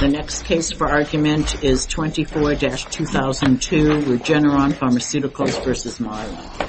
The next case for argument is 24-2002 Regeneron Pharmaceuticals v. Mylan.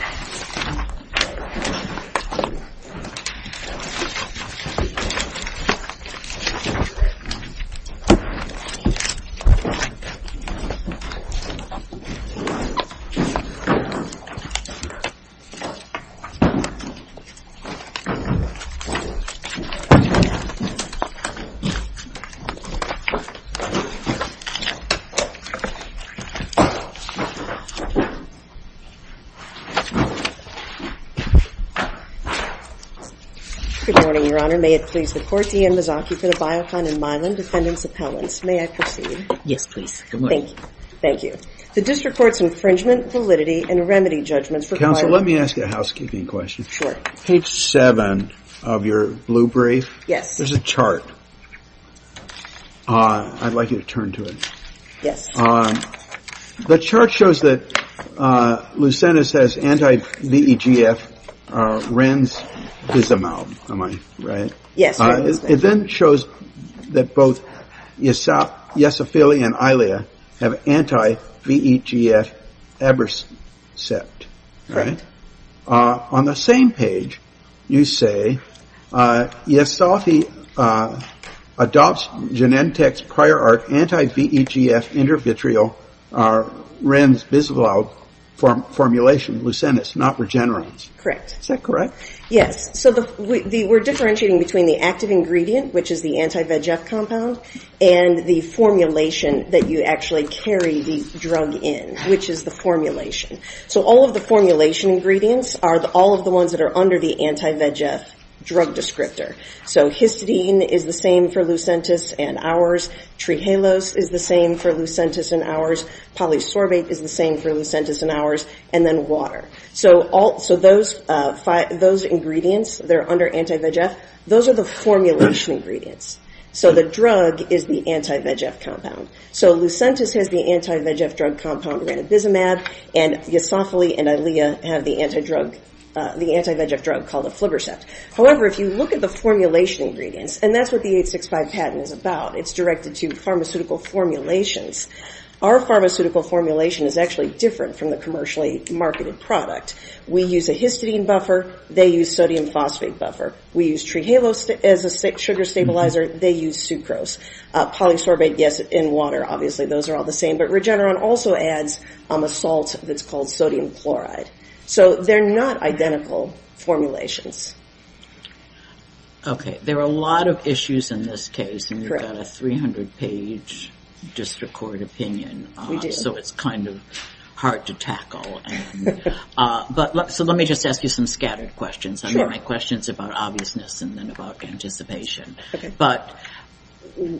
The district reports infringement, validity, and remedy judgment for the licensee. Let me ask a housekeeping question. Page 7 of your blue brief, there's a chart. I'd like you to turn to it. The chart shows that Lucentis has anti-VEGF. It then shows that both Yesop, Yesophila, and Ilea have anti-VEGF. On the same page, you say Yesophila adopts Genentech's prior art anti-VEGF intervitrile Renz-Bisglau formulation, Lucentis, not Regeneron. Is that correct? Yes. We're differentiating between the active ingredient, which is the anti-VEGF compound, and the formulation that you actually carry the drug in, which is the formulation. All of the formulation ingredients are all of the ones that are under the anti-VEGF drug descriptor. Histidine is the same for Lucentis and ours. Trihalose is the same for Lucentis and ours. Polysorbate is the same for Lucentis and ours, and then water. Those ingredients that are under anti-VEGF, those are the formulation ingredients. The drug is the anti-VEGF compound. Lucentis has the anti-VEGF drug compound, Ranibizumab, and Yesophila and Ilea have the anti-VEGF drug called Aflibercept. However, if you look at the formulation ingredients, and that's what the 865 patent is about. It's directed to pharmaceutical formulations. Our pharmaceutical formulation is actually different from the commercially marketed product. We use a histidine buffer, they use sodium phosphate buffer. We use trihalose as a sugar stabilizer, they use sucrose. Polysorbate gets in water, obviously those are all the same, but Regeneron also adds a salt that's called sodium chloride. So they're not identical formulations. Okay. There are a lot of issues in this case. And you've got a 300-page disrecorded opinion. So it's kind of hard to tackle. But let me just ask you some scattered questions. Some of my questions are about obviousness and then about anticipation. But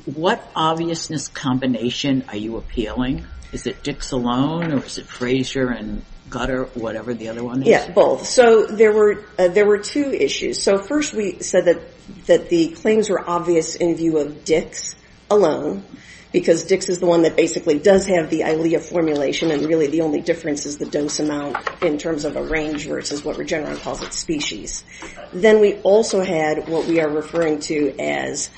what obviousness combination are you appealing? Is it Dixalone or is it Fraser and Gutter, whatever the other one is? Yes, both. So there were two issues. So first we said that the claims were obvious in view of Dixalone, because Dix is the one that basically does have the ILEA formulation and really the only difference is the dose amount in terms of a range versus what Regeneron calls a species. Then we also had what we are referring to as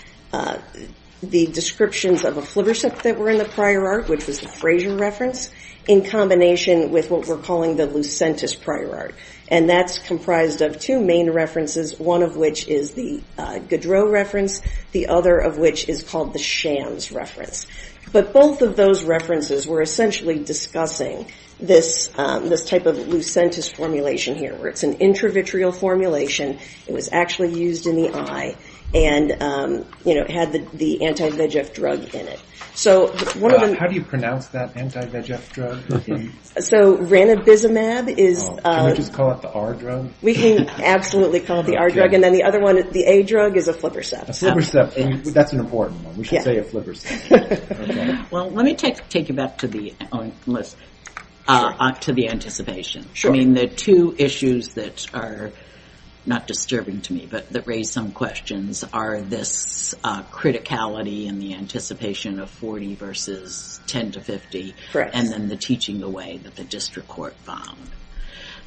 the descriptions of a Fliverset that were in the prior art, which is a Fraser reference, in combination with what we're calling the Lucentis prior art. And that's comprised of two main references, one of which is the Goudreau reference, the other of which is called the Shams reference. But both of those references were essentially discussing this type of Lucentis formulation here, where it's an intravitreal formulation. It was actually used in the eye and had the anti-VEGF drug in it. How do you pronounce that anti-VEGF drug? So Ranibizumab is... Can we just call it the R-drug? We can absolutely call it the R-drug. And then the other one, the A-drug, is a Fliverset. A Fliverset, and that's an important one. We should say a Fliverset. Well, let me take you back to the anticipation. I mean, the two issues that are not disturbing to me that raise some questions are this criticality and the anticipation of 40 versus 10 to 50, and then the teaching the way that the district court found.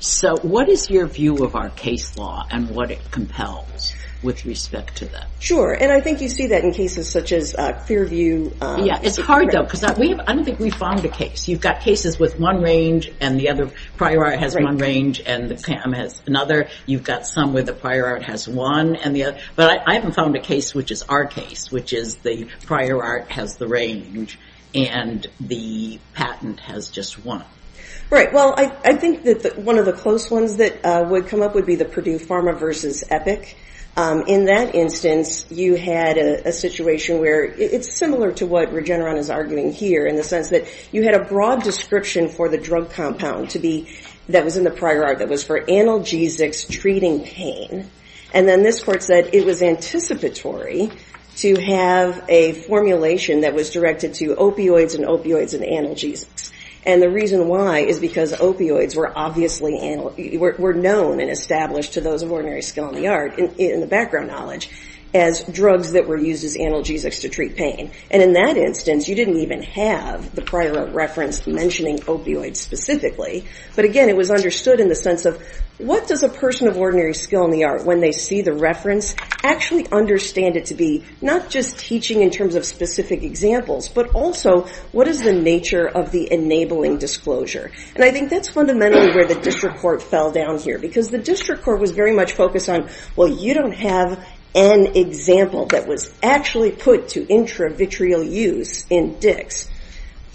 So what is your view of our case law and what it compels with respect to that? Sure, and I think you see that in cases such as Fairview. Yeah, it's hard, though, because I don't think we've found a case. You've got cases with one range and the other prior art has one range and the PAM has another. You've got some where the prior art has one and the other. But I haven't found a case which is our case, which is the prior art has the range and the patent has just one. Right. Well, I think that one of the close ones that would come up would be the Purdue Pharma versus Epic. In that instance, you had a situation where it's similar to what Regeneron is arguing here in the sense that you had a broad description for the drug compound that was in the prior art that was for analgesics treating pain. And then this court said it was anticipatory to have a formulation that was directed to opioids and opioids and analgesics. And the reason why is because opioids were obviously known and established to those of ordinary skill in the art, in the background knowledge, as drugs that were used with analgesics to treat pain. And in that instance, you didn't even have the prior art reference mentioning opioids specifically. But again, it was understood in the sense of what does a person of ordinary skill in the art, when they see the reference, actually understand it to be not just teaching in terms of specific examples, but also what is the nature of the enabling disclosure? And I think that's fundamentally where the district court fell down here because the district court was very much focused on, well, you don't have an example that was actually put to intravitreal use in DICS.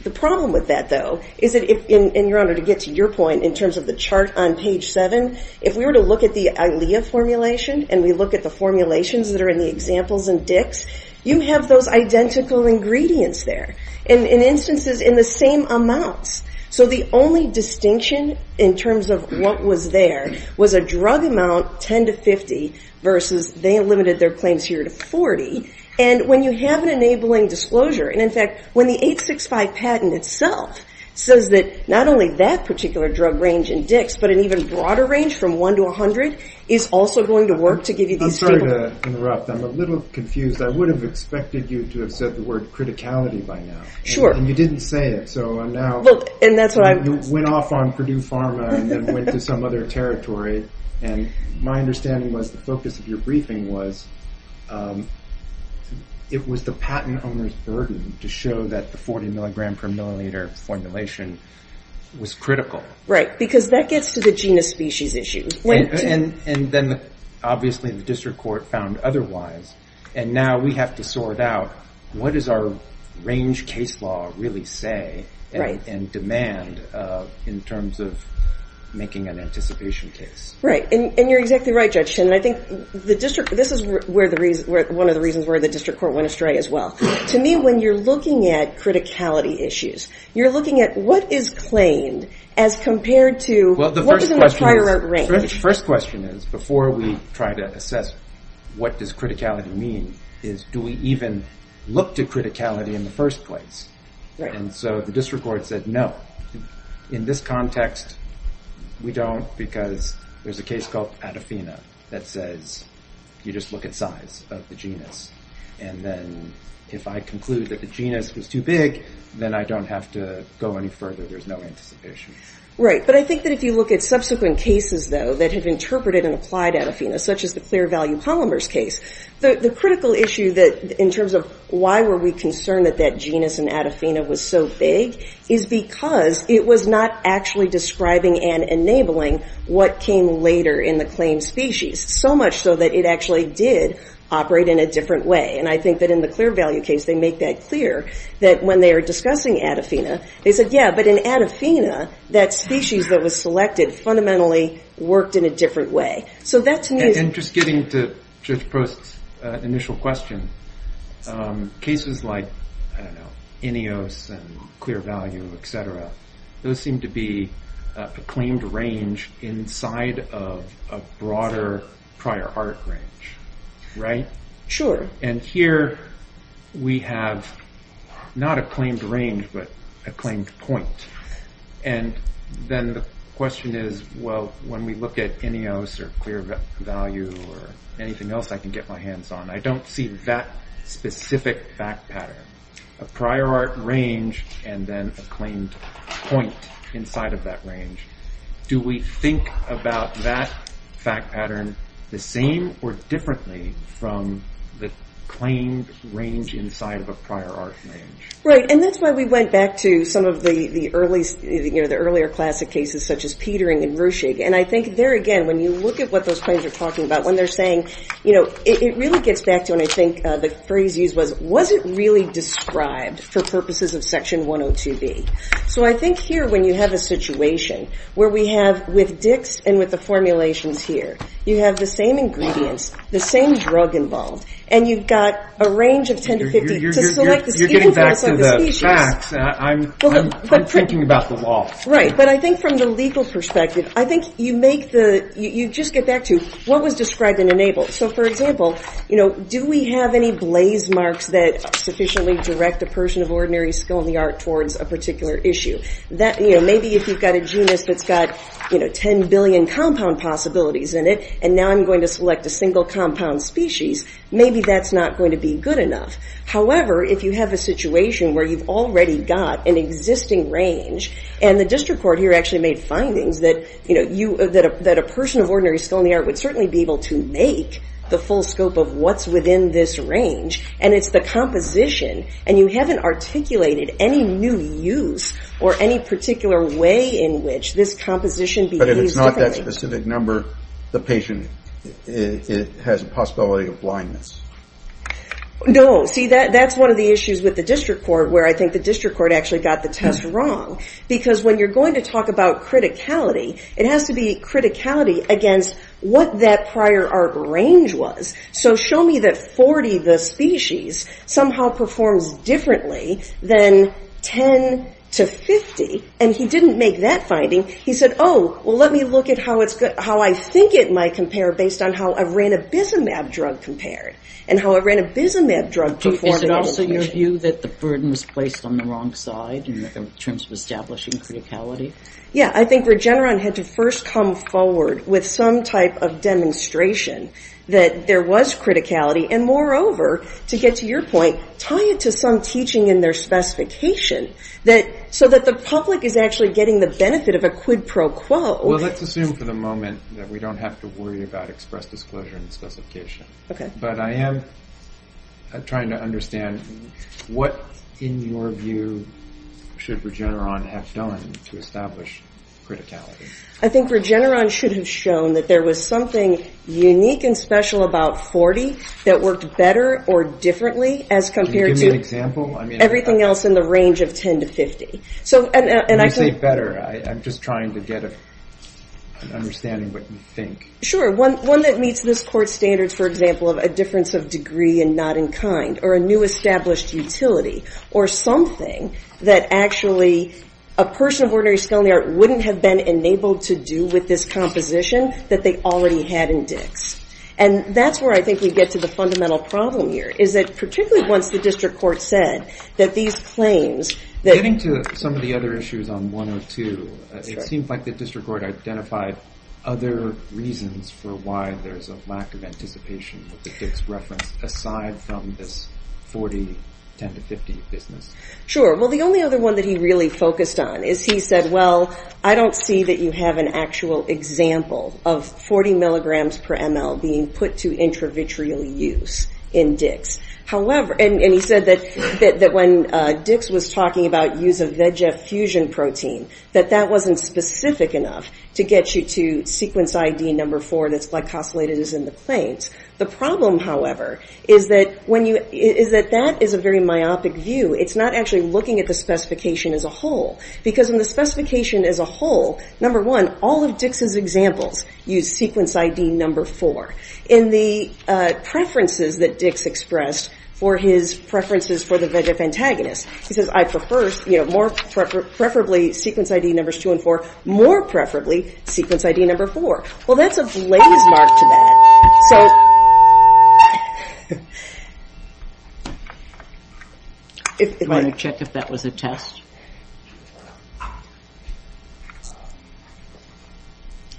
The problem with that, though, is that, and Your Honor, to get to your point in terms of the chart on page 7, if we were to look at the ILEA formulation and we look at the formulations that are in the examples in DICS, you have those identical ingredients there, in instances in the same amounts. So the only distinction in terms of what was there was a drug amount, 10 to 50, versus they limited their claims here to 40. And when you have an enabling disclosure, and, in fact, when the 865 patent itself says that not only that particular drug range in DICS, but an even broader range from 1 to 100, is also going to work to give you these samples. I'm sorry to interrupt. I'm a little confused. I would have expected you to have said the word criticality by now. Sure. And you didn't say it, so I'm now... Well, and that's what I... You went off on Purdue Pharma and then went to some other territory, and my understanding was the focus of your briefing was it was the patent owner's burden to show that the 40 milligram per milliliter formulation was critical. Right, because that gets to the gene of species issue. And then, obviously, the district court found otherwise, and now we have to sort out what does our range case law really say and demand in terms of making an anticipation case. Right, and you're exactly right, Jeff Shinn. I think this is one of the reasons why the district court went astray as well. To me, when you're looking at criticality issues, you're looking at what is claimed as compared to... Well, the first question is, before we try to assess what does criticality mean, is do we even look to criticality in the first place? And so the district court said no. In this context, we don't, because there's a case called Adafina that says you just look at size of the genus, and then if I conclude that the genus was too big, then I don't have to go any further. There's no anticipation. Right, but I think that if you look at subsequent cases, though, that have interpreted and applied Adafina, such as the Clear Value Polymers case, the critical issue in terms of why were we concerned that that genus in Adafina was so big is because it was not actually describing and enabling what came later in the claimed species, so much so that it actually did operate in a different way. And I think that in the Clear Value case, they make that clear, that when they were discussing Adafina, they said, yeah, but in Adafina, that species that was selected fundamentally worked in a different way. So that's new. And just getting to Judge Prost's initial question, cases like, I don't know, Ineos and Clear Value, et cetera, those seem to be a claimed range inside of a broader prior art range, right? Sure. And here we have not a claimed range, but a claimed point. And then the question is, well, when we look at Ineos or Clear Value or anything else I can get my hands on, I don't see that specific fact pattern. A prior art range and then a claimed point inside of that range. Do we think about that fact pattern the same or differently from the claimed range inside of a prior art range? Right, and that's why we went back to some of the earlier classic cases such as Petering and Gershig. And I think there again, when you look at what those claims are talking about, when they're saying, you know, it really gets back to when I think the phrase used was, was it really described for purposes of Section 102B? So I think here when you have a situation where we have with DICS and with the formulations here, you have the same ingredients, the same drug involved, and you've got a range of scientific... You're getting back to the fact that I'm thinking about the law. Right, but I think from the legal perspective, I think you make the, you just get back to what was described and enabled. So for example, you know, do we have any blaze marks that sufficiently direct a person of ordinary skill in the art towards a particular issue? That, you know, maybe if you've got a genus that's got, you know, 10 billion compound possibilities in it and now I'm going to select a single compound species, maybe that's not going to be good enough. However, if you have a situation where you've already got an existing range and the district court here actually made findings that, you know, that a person of ordinary skill in the art would certainly be able to make the full scope of what's within this range, and it's the composition, and you haven't articulated any new use or any particular way in which this composition... But if it's not that specific number, the patient has a possibility of blindness. No, see, that's one of the issues with the district court where I think the district court actually got the test wrong because when you're going to talk about criticality, it has to be criticality against what that prior art range was. So show me that 40, the species, somehow performs differently than 10 to 50, and he didn't make that finding. He said, oh, well, let me look at how I think it might compare based on how a ranibizumab drug compared and how a ranibizumab drug performed... Is it also your view that the burden was placed on the wrong side in terms of establishing criticality? Yeah, I think Regeneron had to first come forward with some type of demonstration that there was criticality, and moreover, to get to your point, tie it to some teaching in their specification so that the public is actually getting the benefit of a quid pro quo. Well, let's assume for the moment that we don't have to worry about express disclosure and specification. But I am trying to understand what, in your view, should Regeneron have done to establish criticality? I think Regeneron should have shown that there was something unique and special about 40 that worked better or differently as compared to everything else in the range of 10 to 50. When you say better, I'm just trying to get an understanding of what you think. Sure, one that meets the court standards, for example, of a difference of degree and not in kind or a new established utility, or something that actually a person of ordinary skill in the art wouldn't have been enabled to do with this composition that they already had in DICS. And that's where I think we get to the fundamental problem here is that particularly once the district court said that these claims... Getting to some of the other issues on 102, it seems like the district court identified other reasons for why there's a lack of anticipation of the DICS reference aside from this 40, 10 to 50 fitment. Sure, well, the only other one that he really focused on is he said, well, I don't see that you have an actual example of 40 milligrams per ml being put to intravitreal use in DICS. And he said that when DICS was talking about use of VEGF fusion protein, that that wasn't specific enough to get you to sequence ID number 4 The problem, however, is that that is a very myopic view. It's not actually looking at the specification as a whole because in the specification as a whole, number one, all of DICS's examples use sequence ID number 4. In the preferences that DICS expressed for his preferences for the VEGF antagonist, he says, I prefer preferably sequence ID numbers 2 and 4, more preferably sequence ID number 4. Well, there's a blaze map to that. So... Do you want to check if that was a test?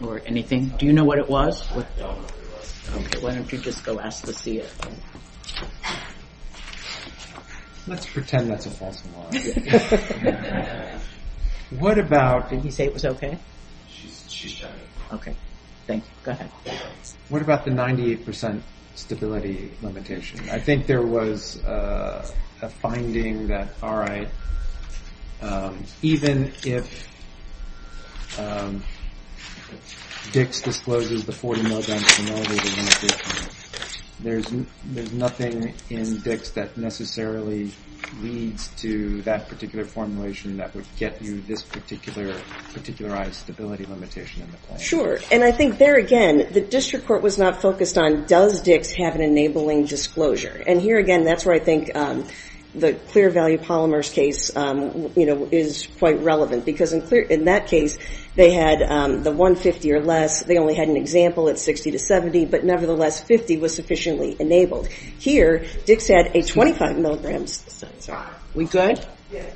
Or anything? Do you know what it was? Why don't you just go ask Lucia? Let's pretend that's a decimal. What about... Did he say it was okay? Okay. Thanks. What about the 98% stability limitation? I think there was a finding that, even if DICS discloses the 40 milligrams in all of the nucleotides, there's nothing in DICS that necessarily leads to that particular formulation that would get you this particularized stability limitation. Sure, and I think there again, the district court was not focused on, does DICS have an enabling disclosure? And here again, that's where I think the clear value polymers case is quite relevant because in that case, they had the 150 or less, they only had an example of 60 to 70, but nevertheless, 50 was sufficiently enabled. Here, DICS had a 25 milligrams. We good? Yes.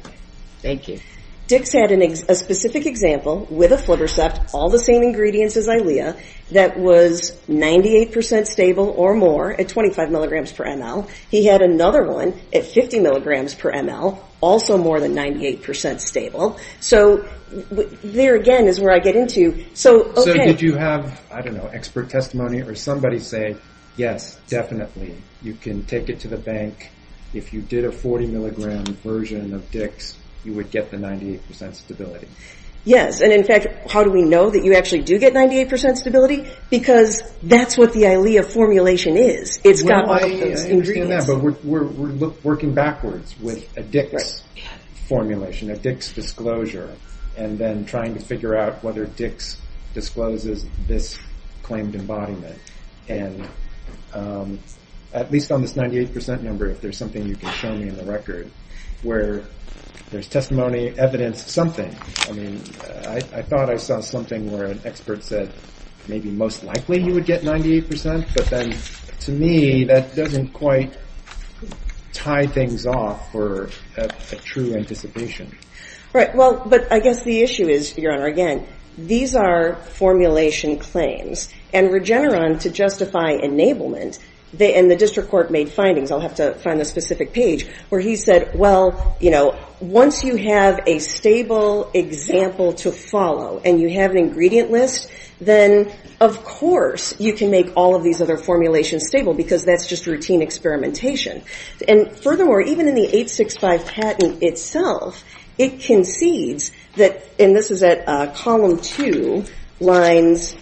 Thank you. DICS had a specific example, with a Fluttersat, all the same ingredients as ILEA, that was 98% stable or more at 25 milligrams per ml. He had another one at 50 milligrams per ml, also more than 98% stable. So there again is where I get into... So did you have, I don't know, expert testimony or somebody say, yes, definitely. You can take it to the bank. If you did a 40 milligram version of DICS, you would get the 98% stability. Yes. And in fact, how do we know that you actually do get 98% stability? Because that's what the ILEA formulation is. It's not like... We're working backwards with a DICS formulation, a DICS disclosure, and then trying to figure out whether DICS discloses this claimed embodiment. And at least on this 98% number, if there's something you can show me in the record, where there's testimony, evidence, something. I mean, I thought I saw something where an expert said maybe most likely you would get 98%, but then to me, that doesn't quite tie things off for a true anticipation. Right, well, but I guess the issue is, Your Honor, again, these are formulation claims, and Regeneron, to justify enablement, and the district court made findings, I'll have to find a specific page, where he said, Well, you know, once you have a stable example to follow, and you have an ingredient list, then, of course, you can make all of these other formulations stable because that's just routine experimentation. And furthermore, even in the 865 patent itself, it concedes that, and this is at column two, lines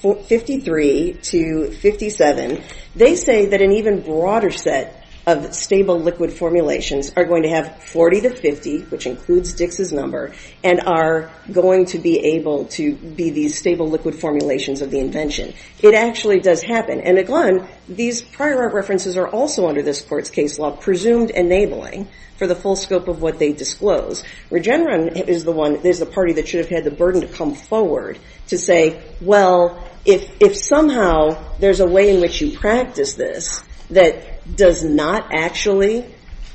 53 to 57, they say that an even broader set of stable liquid formulations are going to have 40 to 50, which includes Dix's number, and are going to be able to be these stable liquid formulations of the invention. It actually does happen, and again, these prior references are also under this court's case law, presumed enabling, for the full scope of what they disclose. Regeneron is the party that should have had the burden to come forward to say, Well, if somehow there's a way in which you practice this that does not actually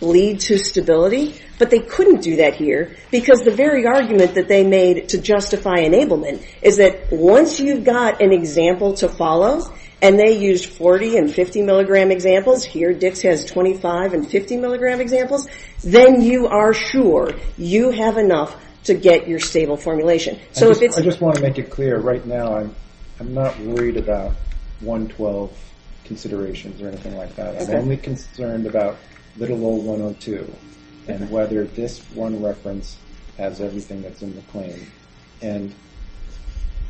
lead to stability, but they couldn't do that here because the very argument that they made to justify enablement is that once you've got an example to follow, and they used 40 and 50 milligram examples, here Dix has 25 and 50 milligram examples, then you are sure you have enough to get your stable formulation. I just want to make it clear right now, I'm not worried about 112 considerations or anything like that. I'm only concerned about little old 102 and whether this one reference has everything that's in the claim, and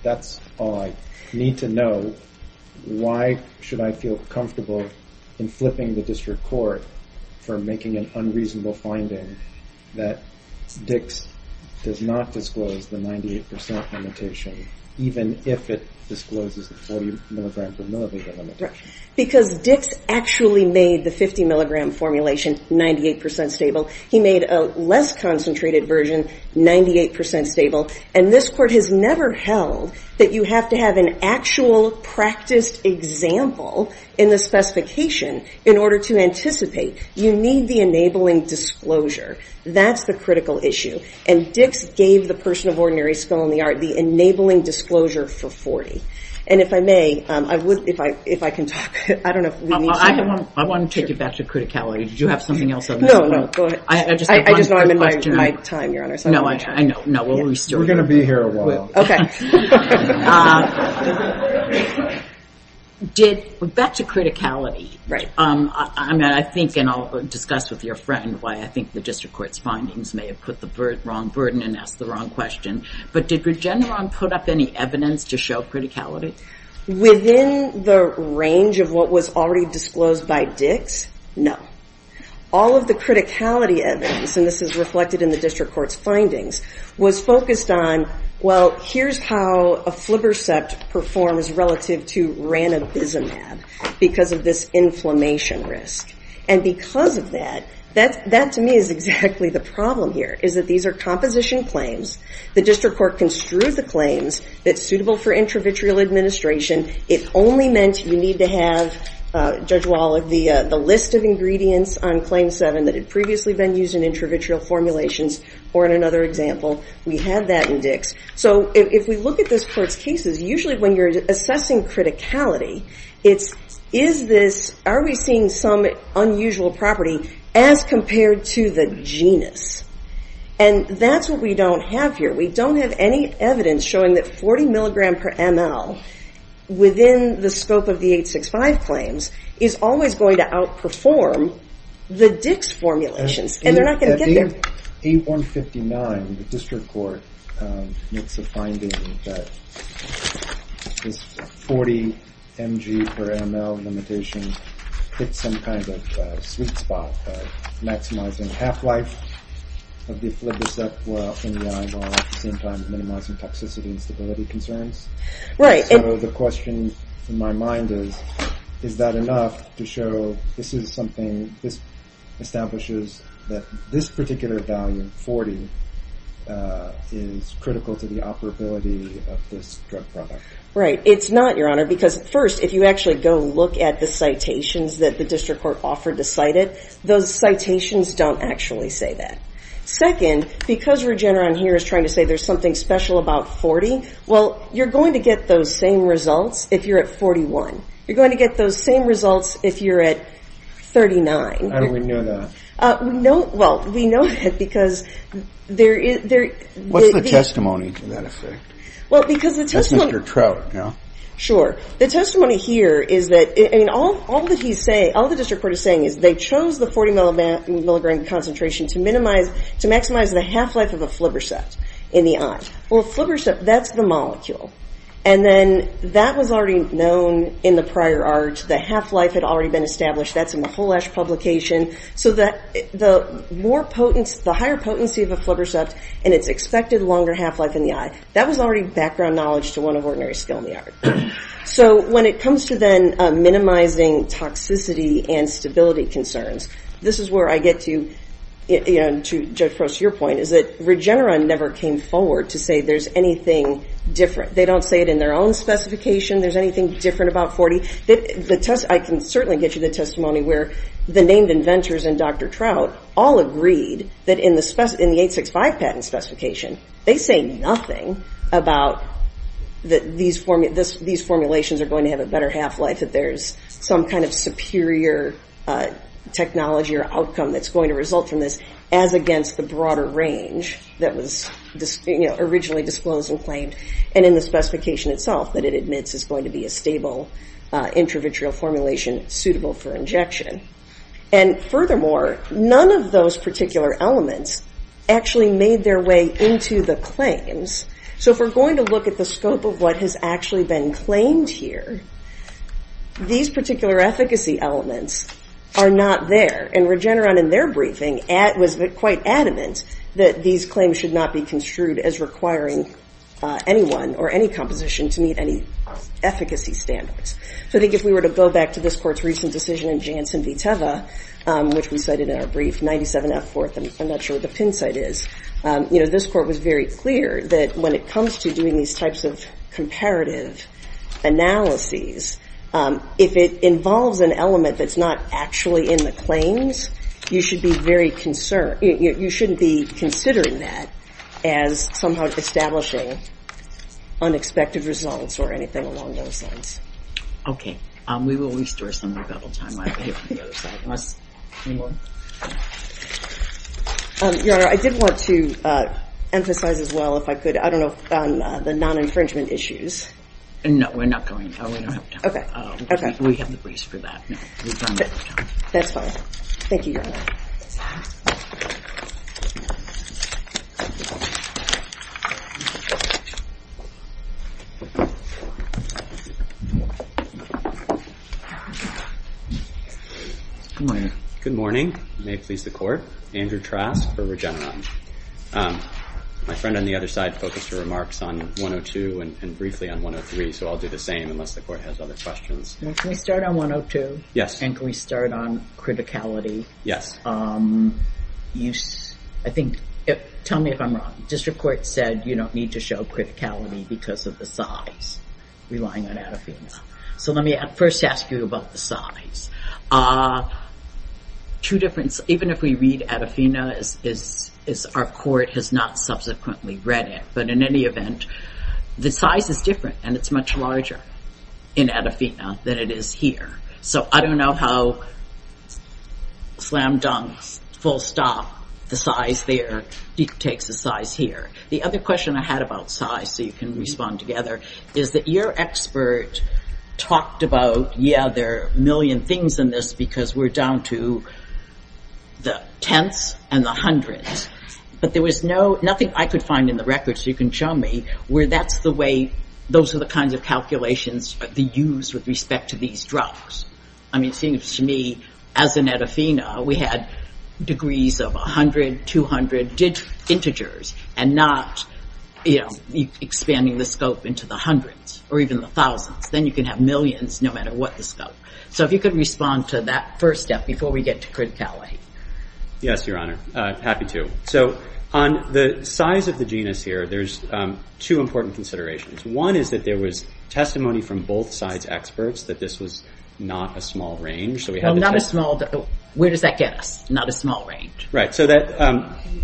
that's all I need to know. Why should I feel comfortable in flipping the district court for making an unreasonable finding that Dix does not disclose the 98% limitation even if it discloses the 40 milligram formulation? Because Dix actually made the 50 milligram formulation 98% stable. He made a less concentrated version, 98% stable, and this court has never held that you have to have an actual practiced example in the specification in order to anticipate. You need the enabling disclosure. That's the critical issue, and Dix gave the person of ordinary skill and the art, the enabling disclosure for 40. And if I may, if I can talk, I don't know if we need to. I want to take you back to criticality. Did you have something else? No, no. I just don't remember my time, Your Honor. No, I know. We're going to be here a while. We're back to criticality. Right. I think, and I'll discuss with your friend why I think the district court's findings may have put the wrong burden and asked the wrong question, but did Regeneron put up any evidence to show criticality? Within the range of what was already disclosed by Dix, no. All of the criticality evidence, and this is reflected in the district court's findings, was focused on, well, here's how a flibber sept performs relative to ranuncism because of this inflammation risk. And because of that, that to me is exactly the problem here, is that these are composition claims The district court construed the claims that's suitable for intravitreal administration. It only meant you need to have, Judge Wallach, the list of ingredients on Claim 7 that had previously been used in intravitreal formulations or in another example. We have that in Dix. So if we look at those court cases, usually when you're assessing criticality, it's, is this, are we seeing some unusual property as compared to the genus? And that's what we don't have here. We don't have any evidence showing that 40 mg per ml within the scope of the 865 claims is always going to outperform the Dix formulation. And they're not going to get there. In 8159, the district court makes the findings that it's 40 mg per ml limitations with some kind of, maximizing half-life, of the flibrocephalophenia in terms of minimizing toxicity and stability concerns. Right. So the question in my mind is, is that enough to show this is something, this establishes that this particular value, 40, is critical to the operability of this drug product. Right. It's not, Your Honor, because first, if you actually go look at the citations that the district court offered to cite it, those citations don't actually say that. because Regeneron here is trying to say there's something special about 40, well, you're going to get those same results if you're at 41. You're going to get those same results if you're at 39. How do we know that? Well, we know that because there is... What's the testimony to that effect? That's Mr. Trout, no? Sure. The testimony here is that, and all the district court is saying is they chose the 40 milligram concentration to maximize the half-life of a Fliverset in the eye. Well, a Fliverset, that's the molecule. And then that was already known in the prior art. The half-life had already been established. That's in the Full-Ash publication. So the more potent, the higher potency of a Fliverset, and it's expected longer half-life in the eye, that was already background knowledge to one of ordinary skill in the art. So when it comes to then minimizing toxicity and stability concerns, this is where I get to, to get close to your point, is that Regeneron never came forward to say there's anything different. They don't say it in their own specification there's anything different about 40. I can certainly get you the testimony where the named inventors and Dr. Trout all agreed that in the 865 patent specification, they say nothing about that these formulations are going to have a better half-life and that there's some kind of superior technology or outcome that's going to result from this as against the broader range that was originally disclosed and claimed and in the specification itself that it admits is going to be a stable introvert formulation suitable for injection. And furthermore, none of those particular elements actually made their way into the claims. So if we're going to look at the scope of what has actually been claimed here, these particular efficacy elements are not there. And Regeneron in their briefing was quite adamant that these claims should not be construed as requiring anyone or any composition to meet any efficacy standards. So if we were to go back to this court's recent decision in Janssen v. Teva, which we cited in our brief, 97F4, I'm not sure what the pin site is, this court was very clear that when it comes to doing these types of comparative analyses, if it involves an element that's not actually in the claims, you should be very concerned. You shouldn't be considering that as somehow establishing unexpected results or anything along those lines. Okay. We will restore some of that when we have time. Any more? Your Honor, I did want to emphasize as well if I could, I don't know, on the non-infringement issues. No, we're not going to. We have the briefs for that. That's fine. Thank you, Your Honor. Good morning. May it please the Court. My name is Andrew Trask of Regeneron. My friend on the other side focused her remarks on 102 and briefly on 103, so I'll do the same unless the Court has other questions. Can we start on 102? Yes. And can we start on criticality? Yes. I think, tell me if I'm wrong, the District Court said you don't need to show criticality because of the size. So let me first ask you about the size. Two different, even if we read Adafina, our Court has not subsequently read it, but in any event, the size is different and it's much larger in Adafina than it is here. So I don't know how slam dunk, full stop, the size there takes the size here. The other question I had about size, so you can respond together, is that your expert talked about, yeah, there are a million things in this because we're down to the tenths and the hundredths, but there was nothing I could find in the record, so you can show me, where that's the way, those are the kinds of calculations that we use with respect to these drugs. I mean, it seems to me, as in Adafina, we had degrees of 100, 200 integers and not expanding the scope into the hundreds or even the thousands. Then you can have millions no matter what the scope. So if you could respond to that first step before we get to Cris Cali. Yes, Your Honor. Happy to. So on the size of the genus here, there's two important considerations. One is that there was testimony from both sides' experts that this was not a small range. So not a small, where does that get us? Not a small range. Right. So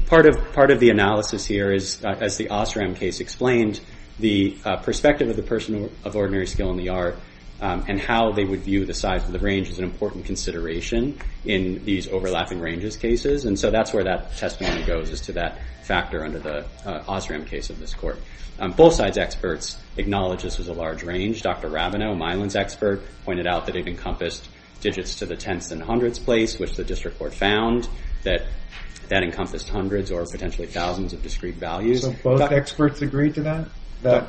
part of the analysis here is, as the Osram case explained, the perspective of the person of ordinary skill in the art and how they would view the size of the range is an important consideration in these overlapping ranges cases. And so that's where that testimony goes, is to that factor under the Osram case of this court. Both sides' experts acknowledge this is a large range. Dr. Rabinow, Milan's expert, pointed out that it encompassed digits to the tenths and hundredths place, which the district court found that that encompassed hundreds or potentially thousands of discrete values. So both experts agree to that? That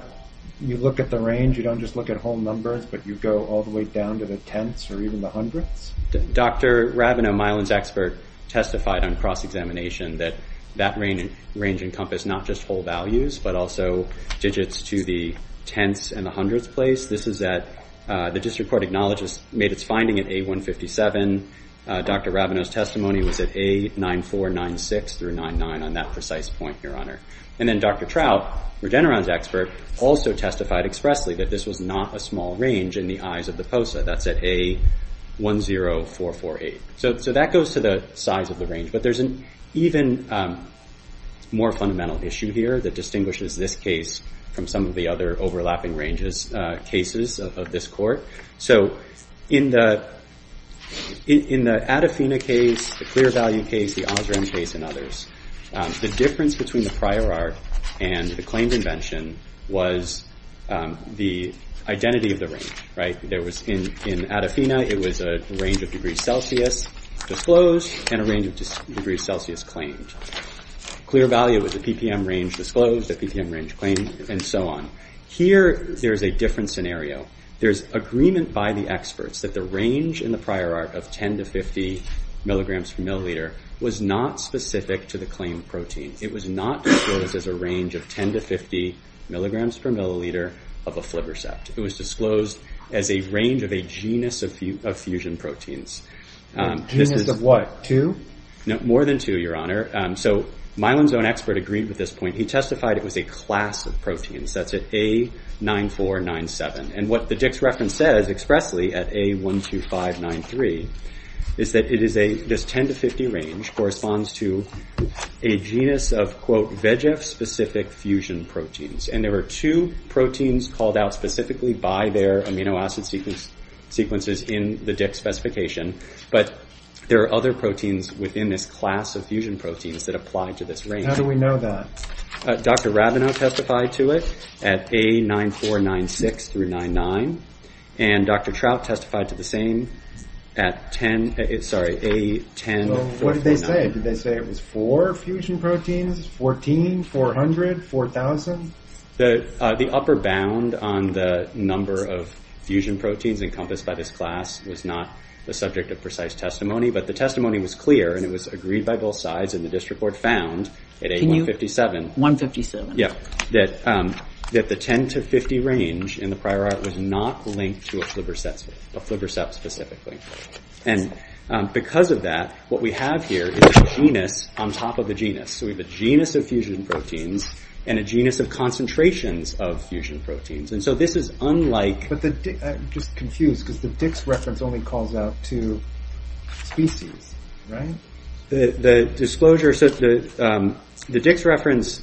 you look at the range, you don't just look at whole numbers, but you go all the way down to the tenths or even the hundredths? Dr. Rabinow, Milan's expert, testified on cross-examination that that range encompassed not just whole values, but also digits to the tenths and the hundredths place. This is at, the district court acknowledges, made its finding at A157. Dr. Rabinow's testimony was at A9496 through 99 on that precise point, Your Honor. And then Dr. Trout, Regeneron's expert, also testified expressly that this was not a small range in the eyes of the POSA. That's at A10448. So that goes to the size of the range, but there's an even more fundamental issue here that distinguishes this case from some of the other overlapping ranges, cases of this court. So in the Adafina case, the Clear Value case, the Osram case, and others, the difference between the prior art and the claimed invention was the identity of the range. In Adafina, it was a range of degrees Celsius disclosed and a range of degrees Celsius claimed. Clear Value was a PPM range disclosed, a PPM range claimed, and so on. Here, there's a different scenario. There's agreement by the experts that the range in the prior art of 10 to 50 milligrams per milliliter was not specific to the claimed protein. It was not disclosed as a range of 10 to 50 milligrams per milliliter of a Flivr set. It was disclosed as a range of a genus of fusion proteins. Genus of what, two? No, more than two, Your Honor. So Mylan's own expert agreed with this point. He testified it was a class of proteins. That's at A9497. And what the Dick's reference says expressly at A12593 is that this 10 to 50 range corresponds to a genus of, quote, VEGF-specific fusion proteins. And there were two proteins called out specifically by their amino acid sequences in the Dick's specification. But there are other proteins within this class of fusion proteins that apply to this range. How do we know that? Dr. Rabinow testified to it at A9496 through 99. And Dr. Trout testified to the same at 10, sorry, A10499. What did they say? Did they say it was four fusion proteins, 14, 400, 4,000? The upper bound on the number of fusion proteins encompassed by this class was not the subject of precise testimony, but the testimony was clear and it was agreed by both sides and the district court found at A157 157. Yeah, that the 10 to 50 range in the prior art was not linked to a flibberset, a flibberset-specific link. And because of that, what we have here is a genus on top of a genus. So we have a genus of fusion proteins and a genus of concentrations of fusion proteins. And so this is unlike... I'm just confused because the Dick's reference only calls out to species, right? The disclosure says the Dick's reference,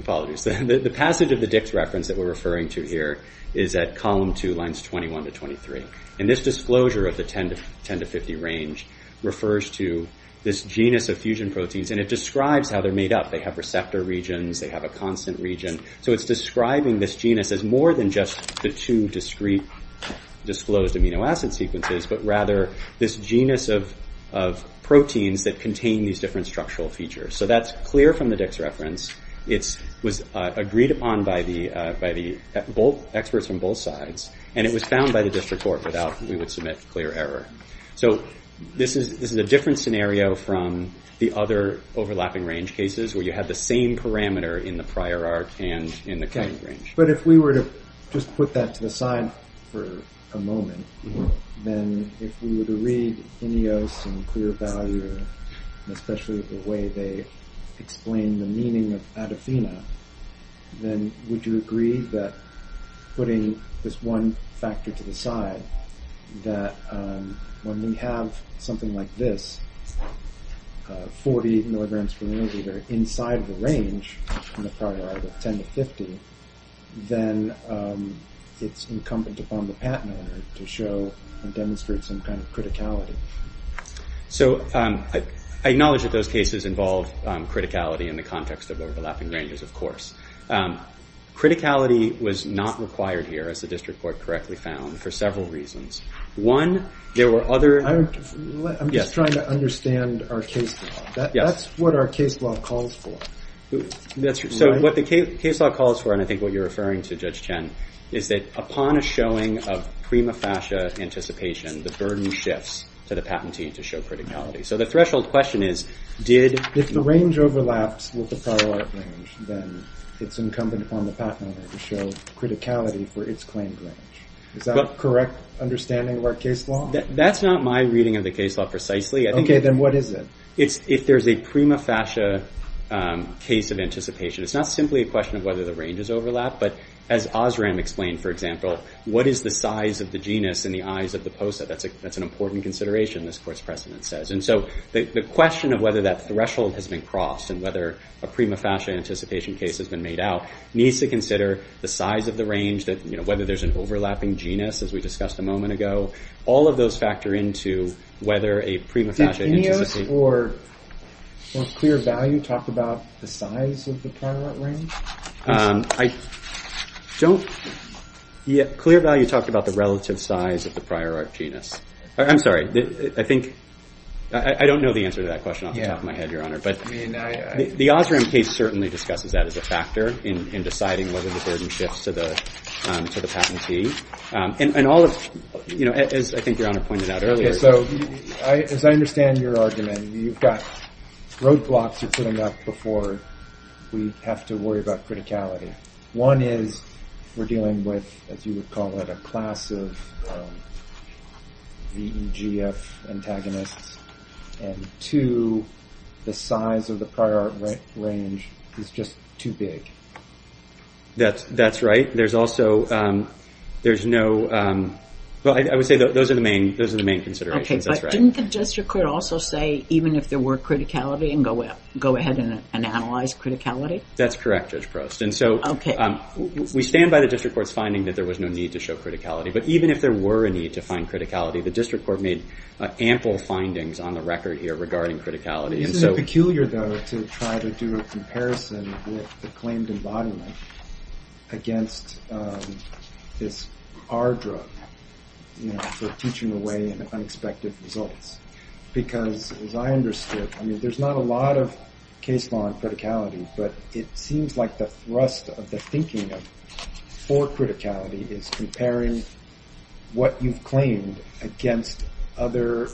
apologies, the passage of the Dick's reference that we're referring to here is at column two, lines 21 to 23. And this disclosure of the 10 to 50 range refers to this genus of fusion proteins and it describes how they're made up. They have receptor regions, they have a constant region. So it's describing this genus as more than just the two discreet disclosed amino acid sequences, but rather this genus of proteins that contain these different structural features. So that's clear from the Dick's reference. It was agreed upon by the experts from both sides and it was found by the district court that without, we would submit clear error. So this is a different scenario from the other overlapping range cases where you have the same parameter in the prior art and in the current range. But if we were to just put that to the side for a moment, then if we were to read any of the clear value, especially the way they explain the meaning of adafina, then would you agree that putting this one factor to the side that when we have something like this, 40 milligrams per milliliter inside the range in the prior art at 10 to 50, then it's incumbent upon the patent owner to show and demonstrate some kind of criticality. So I acknowledge that those cases involve criticality in the context of overlapping ranges, of course. Criticality was not required here as the district court correctly found for several reasons. One, there were other... I'm just trying to understand our case law. That's what our case law calls for. So what the case law calls for, and I think what you're referring to, Judge Chen, is that upon a showing of prima facie anticipation, the burden shifts to the patent team to show criticality. So the threshold question is, did... If the range overlaps with the prior art range, then it's incumbent upon the patent owner to show criticality for its claimed range. Is that a correct understanding of our case law? That's not my reading of the case law precisely. Okay, then what is it? If there's a prima facie case of anticipation, it's not simply a question of whether the range is overlapped, but as Osram explained, for example, what is the size of the genus in the eyes of the post-it? That's an important consideration, this course precedent says. And so the question of whether that threshold has been crossed and whether a prima facie anticipation case has been made out needs to consider the size of the range, whether there's an overlapping genus, as we discussed a moment ago, all of those factor into whether a prima facie... Did genus or clear value talk about the size of the prior art range? I don't... Yeah, clear value talked about the relative size of the prior art genus. I'm sorry, I think... I don't know the answer to that question off the top of my head, Your Honor, but the Osram case certainly discussed that as a factor in deciding whether the burden shifts to the patentee. And all of, you know, as I think Your Honor pointed out earlier... Yeah, so, as I understand your argument, you've got roadblocks you're putting up before we have to worry about criticality. One is we're dealing with, as you would call it, a class of VEGF antagonists, and two, the size of the prior art range is just too big. That's right. There's also... There's no... Well, I would say those are the main considerations. Okay, but didn't the district court also say even if there were criticality and go ahead and analyze criticality? That's correct, Judge Preston. Okay. We stand by the district court's finding that there was no need to show criticality, but even if there were a need to find criticality, the district court made ample findings on the record here regarding criticality. Isn't it peculiar, though, to try to do a comparison with the claimed embodiments against this R drug for teaching away an unexpected result? Because as I understand it, there's not a lot of case law on criticality, but it seems like the thrust of the thinking for criticality is comparing what you claim against other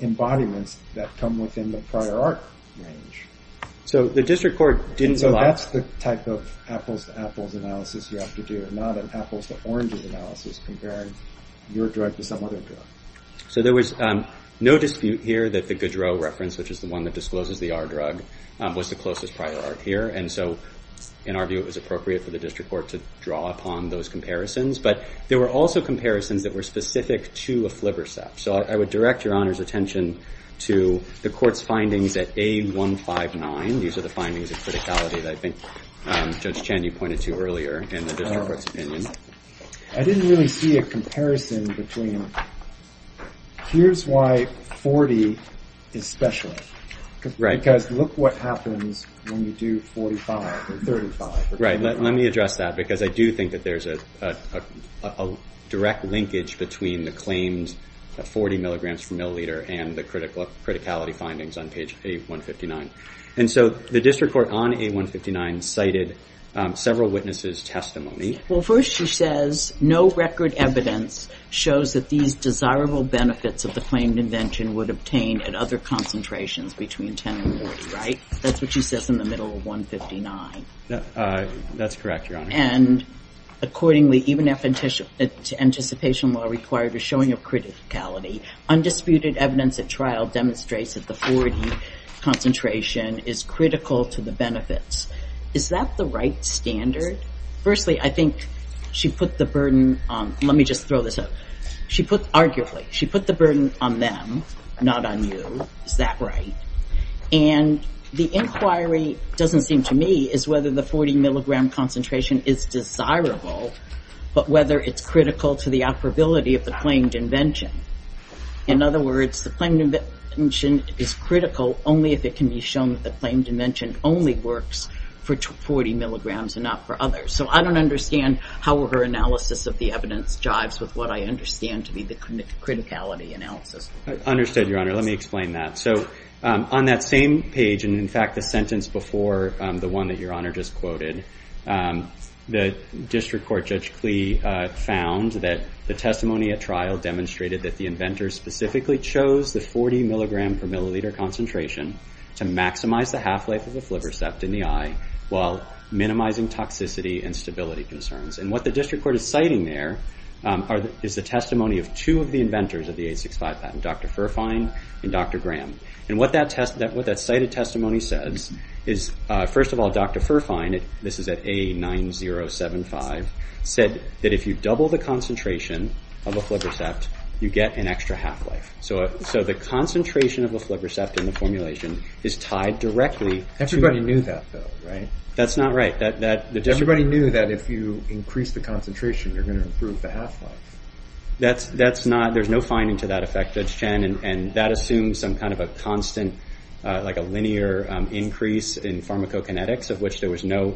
embodiments that come within the prior art range. So the district court didn't... So that's the type of apples-to-apples analysis you have to do, not an apples-to-oranges analysis comparing your drug to some other drug. So there was no dispute here that the Goudreau reference, which is the one that discloses the R drug, was the closest prior art here, and so, in our view, it was appropriate for the district court to draw upon those comparisons, but there were also comparisons that were specific to a flipper set. So I would direct Your Honor's attention to the court's findings at A159. These are the findings of criticality that I think Judge Chan, you pointed to earlier in the district court's opinion. I didn't really see a comparison between here's why 40 is special. Right. Because look what happens when you do 45 or 35. Right, let me address that because I do think that there's a direct linkage between the claims of 40 milligrams per milliliter and the criticality findings on page A159. And so the district court on A159 cited several witnesses' testimony. Well, first she says no record evidence shows that these desirable benefits of the claimed invention would obtain at other concentrations between 10 and 40, right? That's what she says in the middle of 159. That's correct, Your Honor. And accordingly, even if anticipation law required is showing a criticality, undisputed evidence at trial demonstrates that the 40 concentration is critical to the benefits. Is that the right standard? Firstly, I think she put the burden on, let me just throw this out. She put, arguably, she put the burden on them, not on you, is that right? And the inquiry doesn't seem to me as whether the 40 milligram concentration is desirable, but whether it's critical to the operability of the claimed invention. In other words, the claimed invention is critical only if it can be shown that the claimed invention only works for 40 milligrams and not for others. So I don't understand how her analysis of the evidence jives with what I understand to be the criticality analysis. Understood, Your Honor. Let me explain that. So on that same page, and in fact the sentence before the one that Your Honor just quoted, the district court judge plea found that the testimony at trial demonstrated that the inventor specifically chose the 40 milligram per milliliter concentration to maximize the half-life of the liver ceft in the eye while minimizing toxicity and stability concerns. And what the district court is citing there is the testimony of two of the inventors of the 865 patent, Dr. Firfine and Dr. Graham. And what that cited testimony says is, first of all, Dr. Firfine, this is at A9075, said that if you double the concentration of a liver ceft, you get an extra half-life. So the concentration of a liver ceft in the formulation is tied directly to... Everybody knew that, though, right? That's not right. Everybody knew that if you increase the concentration, you're going to improve the half-life. That's not... There's no finding to that effect, Judge Shannon, and that assumes some kind of a constant, like a linear increase in pharmacokinetics of which there was no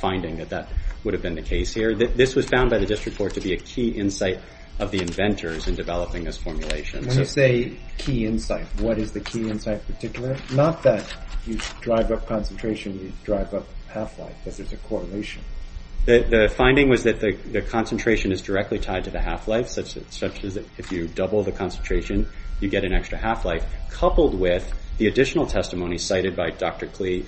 finding that that would have been the case here. This was found by the district court to be a key insight of the inventors in developing this formulation. When you say key insight, what is the key insight particular? Not that you drive up concentration, you drive up half-life, but there's a correlation. The finding was that the concentration is directly tied to the half-life, such that if you double the concentration, you get an extra half-life, coupled with the additional testimony cited by Dr. Klee...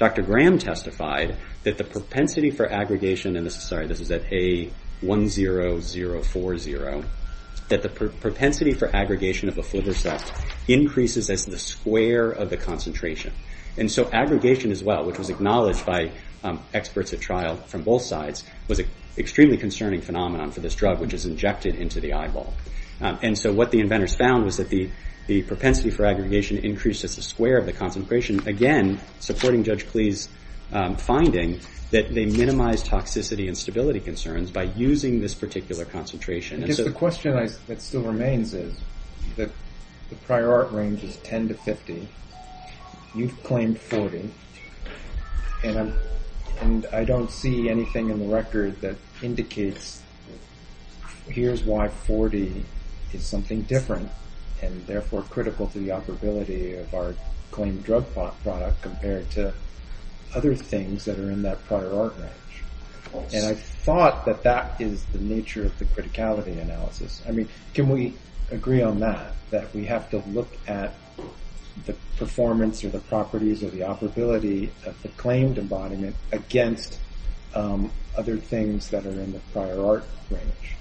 Dr. Graham testified that the propensity for aggregation... Sorry, this is at A10040. That the propensity for aggregation of the fluvacet increases as the square of the concentration. And so aggregation as well, which was acknowledged by experts at trial from both sides, was an extremely concerning phenomenon for this drug, which is injected into the eyeball. And so what the inventors found was that the propensity for aggregation increases as the square of the concentration. Again, supporting Judge Klee's finding that they minimize toxicity and stability concerns by using this particular concentration. Because the question that still remains is that the prior art range is 10 to 50. You've claimed 40. And I don't see anything in the record that indicates here's why 40 is something different, and therefore critical to the operability of our claimed drug product compared to other things that are in that prior art range. And I thought that that is the nature of the criticality analysis. I mean, can we agree on that? That we have to look at the performance or the properties or the operability of the claimed embodiment against other things that are in the prior art range?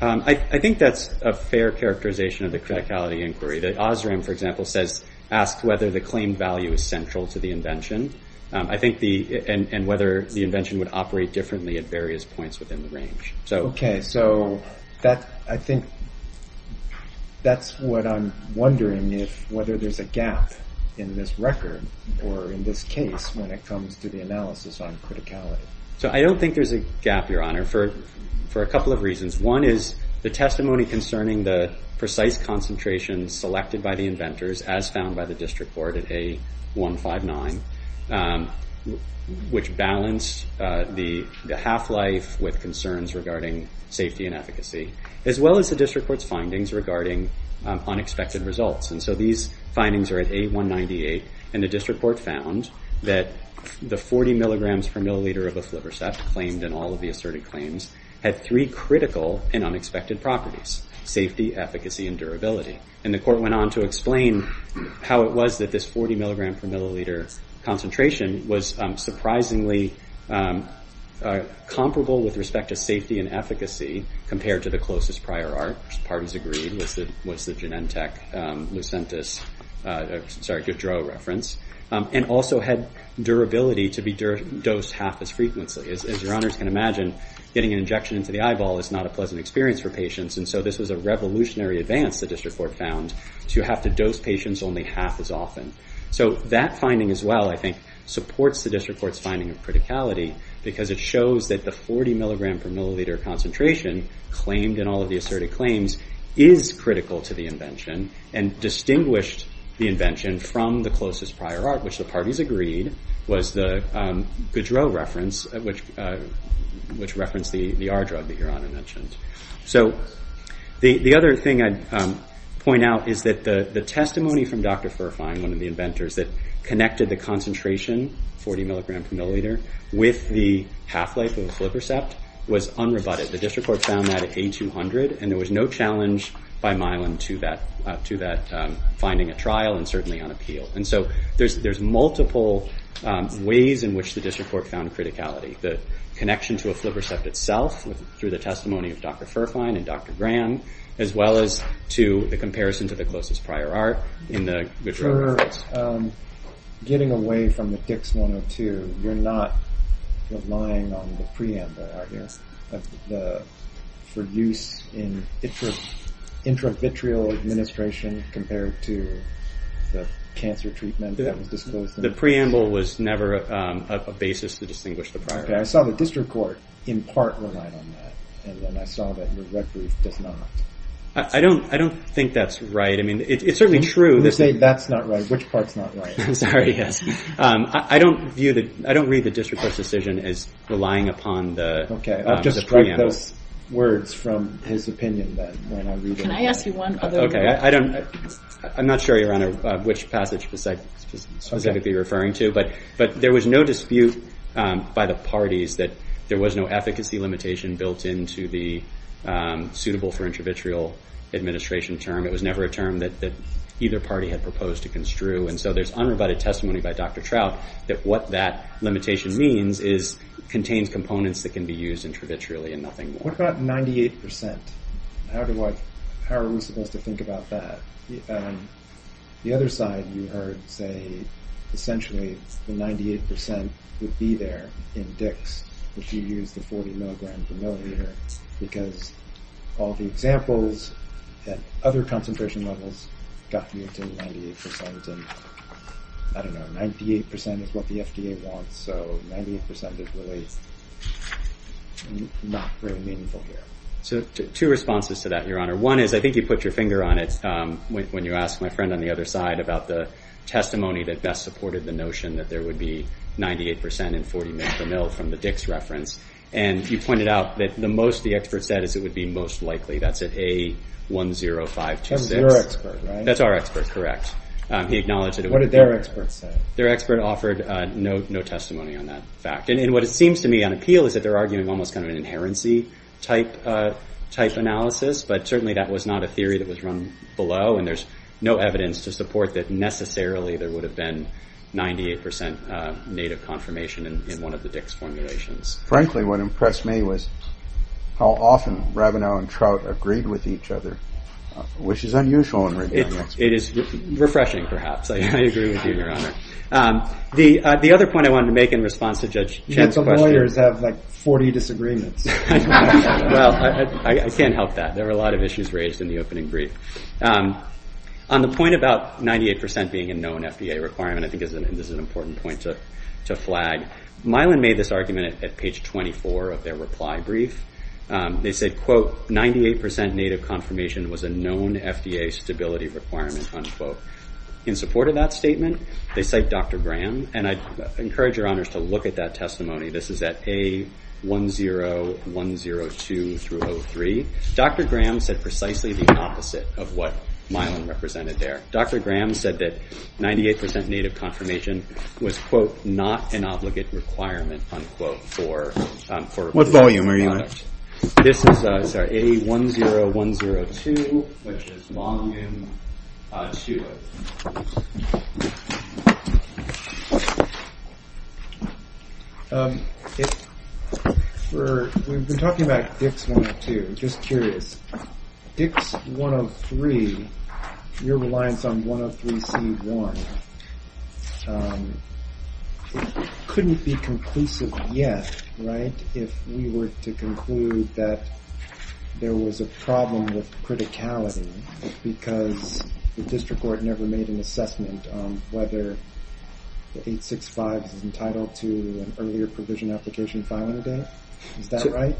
I think that's a fair characterization of the criticality inquiry. That Osram, for example, says ask whether the claimed value is central to the invention. I think the, and whether the invention would operate differently at various points within the range. Okay, so I think that's what I'm wondering is whether there's a gap in this record or in this case when it comes to the analysis on criticality. So I don't think there's a gap, Your Honor, for a couple of reasons. One is the testimony concerning the precise concentration selected by the inventors as found by the district court at A159, which balanced the half-life with concerns regarding safety and efficacy, as well as the district court's findings regarding unexpected results. And so these findings are at A198, and the district court found that the 40 milligrams per milliliter of the Fliversoft claimed and all of the asserted claims had three critical and unexpected properties, safety, efficacy, and durability. And the court went on to explain how it was that this 40 milligrams per milliliter concentration was surprisingly comparable with respect to safety and efficacy compared to the closest prior art, which the parties agreed was the Genentech Lucentis, sorry, Goudreau reference, and also had durability to be dosed half as frequently. As your honors can imagine, getting an injection into the eyeball is not a pleasant experience for patients, and so this was a revolutionary advance the district court found to have to dose patients only half as often. So that finding as well, I think, supports the district court's finding of criticality because it shows that the 40 milligrams per milliliter concentration claimed in all of the asserted claims is critical to the invention and distinguished the invention from the closest prior art, which the parties agreed was the Goudreau reference, which referenced the R drug that your honor mentioned. So the other thing I'd point out is that the testimony from Dr. Firfine, one of the inventors, that connected the concentration, 40 milligrams per milliliter, with the half-life of the flippercept was unrebutted. The district court found that at A200, and there was no challenge by Milam to that finding at trial and certainly on appeal. And so there's multiple ways in which the district court found criticality. The connection to a flippercept itself through the testimony of Dr. Firfine and Dr. Graham, as well as to the comparison to the closest prior art in the Goudreau reference. Getting away from the Fix-102, you're not relying on the preamble, are you? The use in intravitreal administration compared to the cancer treatment that was disclosed? The preamble was never a basis to distinguish the prior. I saw the district court in part rely on that, and then I saw that in the record that's not. I don't think that's right. It's certainly true. Who's saying that's not right? Which part's not right? I don't read the district court's decision as relying upon the preamble. I'll just write the words from his opinion then. Can I ask you one other question? I'm not sure, Your Honor, which passage was I supposed to be referring to, but there was no dispute by the parties that there was no efficacy limitation built into the suitable for intravitreal administration term. It was never a term that either party had proposed to construe, and so there's unrebutted testimony by Dr. Trout that what that limitation means is contained components that can be used intravitreally and nothing more. What about 98%? How are we supposed to think about that? The other side, we heard say, essentially, the 98% would be there in DICS, which you use the 40 milligrams a milliliter because all the examples at other concentration levels got you to the 98%. I don't know. 98% is what the FDA wants, so 98% is really not very meaningful here. Two responses to that, Your Honor. One is I think you put your finger on it when you asked my friend on the other side about the testimony that best supported the notion that there would be 98% in 40 milligrams a mil from the DICS reference, and you pointed out that the most the expert said is it would be most likely. That's at A10526. That was your expert, right? That's our expert, correct. He acknowledged it. What did their expert say? Their expert offered no testimony on that fact, and what it seems to me on appeal is that they're arguing almost kind of an inherency type analysis, but certainly that was not a theory that was run below. And there's no evidence to support that necessarily there would have been 98% native confirmation in one of the DICS formulations. Frankly, what impressed me was how often Rabinow and Trout agreed with each other, which is unusual in redeemers. It is refreshing, perhaps. I agree with you, Your Honor. The other point I wanted to make in response to Judge Chan's question... You have the lawyers that have like 40 disagreements. Well, I can't help that. There were a lot of issues raised in the opening brief. On the point about 98% being a known FDA requirement, I think this is an important point to flag. Milan made this argument at page 24 of their reply brief. They say, quote, 98% native confirmation was a known FDA stability requirement, unquote. In support of that statement, they cite Dr. Graham, and I encourage Your Honors to look at that testimony. This is at A10102-03. Dr. Graham said precisely the opposite of what Milan represented there. Dr. Graham said that 98% native confirmation was, quote, not an obligate requirement, unquote, for... What volume are you at? This is, I'm sorry, A10102, which is long in Shula. We've been talking about DICS-102. I'm just curious. If DICS-103, your reliance on 103C1, couldn't be conclusive yet, right, if we were to conclude that there was a problem with criticality because the district court never made an assessment on whether the 865 is entitled to an earlier provision application filing date. Is that right?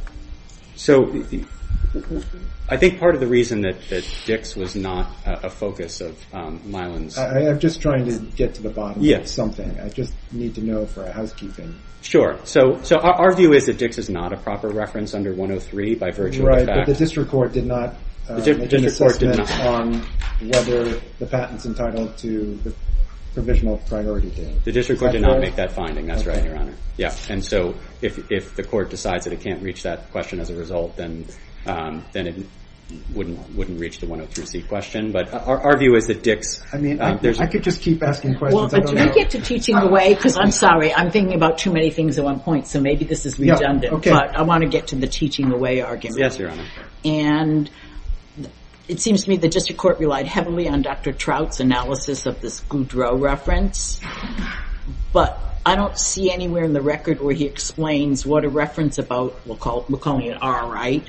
So, I think part of the reason that DICS was not a focus of Milan's... I'm just trying to get to the bottom of something. I just need to know for housekeeping. Sure. So, our view is that DICS is not a proper reference under 103 by virtue of the fact... Right, but the district court did not make an assessment on whether the patent's entitled to the provisional priority date. The district court did not make that finding. That's right, Your Honor. Yeah, and so, if the court decides that it can't reach that question as a result, then it wouldn't reach the 103C question, but our view is that DICS... I mean, I could just keep asking questions. Well, to get to teaching the way, because I'm sorry, I'm thinking about too many things at one point, so maybe this is redundant. Yeah, okay. But I want to get to the teaching the way argument. Yes, Your Honor. And it seems to me the district court relied heavily on Dr. Trout's analysis of this Goudreau reference, but I don't see anywhere in the record where he explains what a reference about, we'll call it R, right?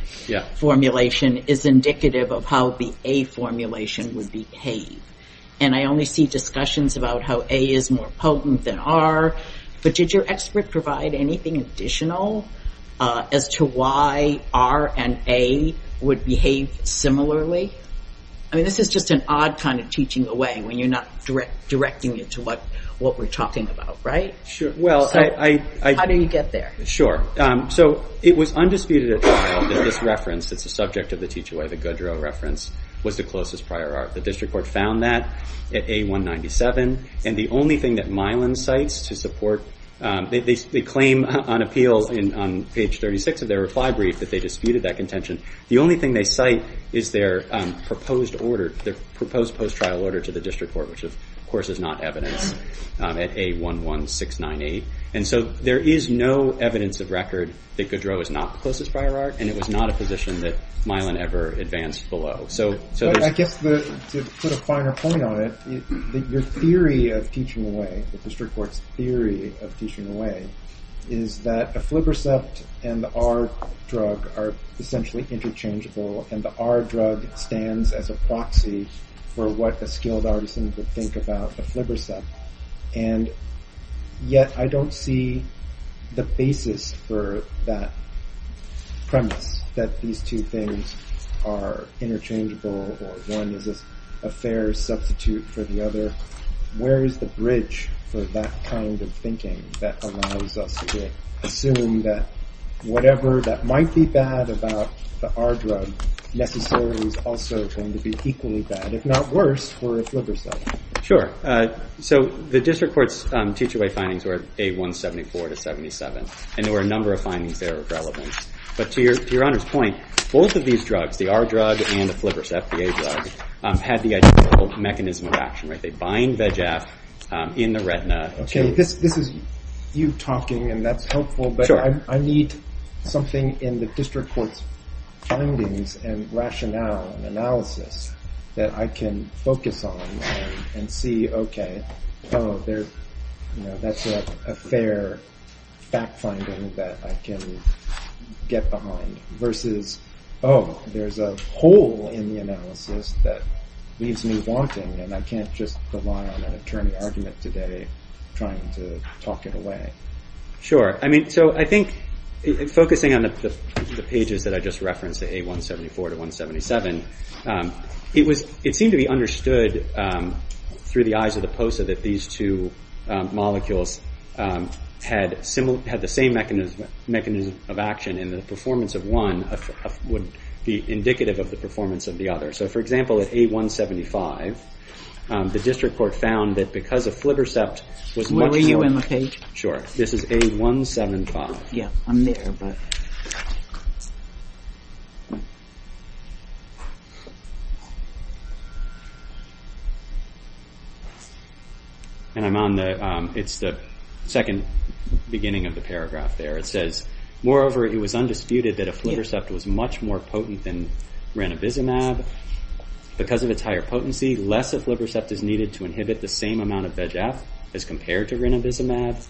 Formulation is indicative of how the A formulation would behave. And I only see discussions about how A is more potent than R, but did your expert provide anything additional as to why R and A would behave similarly? I mean, this is just an odd kind of teaching the way when you're not directing it to what we're talking about, right? Sure, well, I... How do you get there? Sure, so it was undisputed that this reference that's the subject of the teaching the way that Goudreau reference was the closest prior R. The district court found that at A197 and the only thing that Mylan cites to support, they claim on appeal on page 36 of their reply brief that they disputed that contention. The only thing they cite is their proposed order, the proposed post-trial order to the district court, which of course is not evident at A11698. And so there is no evidence of record that Goudreau is not the closest prior R and it was not a position that Mylan ever advanced below. So... I guess to put a finer point on it, your theory of teaching the way, the district court's theory of teaching the way is that a flibrocept and the R drug are essentially interchangeable and the R drug stands as a proxy for what the skilled artisans would think about a flibrocept. And yet I don't see the basis for that premise that these two things are interchangeable or one is a fair substitute for the other. Where is the bridge for that kind of thinking that arises with assuming that whatever that might be bad about the R drug necessarily is also going to be equally bad, if not worse, for a flibrocept. Sure. So the district court's T2A findings were A174 to 77 and there were a number of findings that are relevant. But to your honor's point, both of these drugs, the R drug and the flibrocept, the A drug, have the ideal mechanism of action. They bind VEGF in the retina. Okay, this is you talking and that's helpful but I need something in the district court's findings and rationale and analysis that I can focus on and see, okay, that's a fair fact finding that I can get behind versus, oh, there's a hole in the analysis that leaves me wanting and I can't just rely on an attorney argument today trying to talk it away. Sure. I mean, so I think focusing on the pages that I just referenced, the A174 to 177, it seemed to be understood through the eyes of the POSA that these two molecules had the same mechanism of action and the performance of one would be indicative of the performance of the other. So, for example, at A175, the district court found that because of flibrocepts... Where were you on the page? Sure. This is A175. Yeah, I'm there. And I'm on the... It's the second beginning of the paragraph there. It says, moreover, it was undisputed that a flibrocept was much more potent than renovizumab. Because of its higher potency, less of flibrocept is needed to inhibit the same amount of VEGF as compared to renovizumab.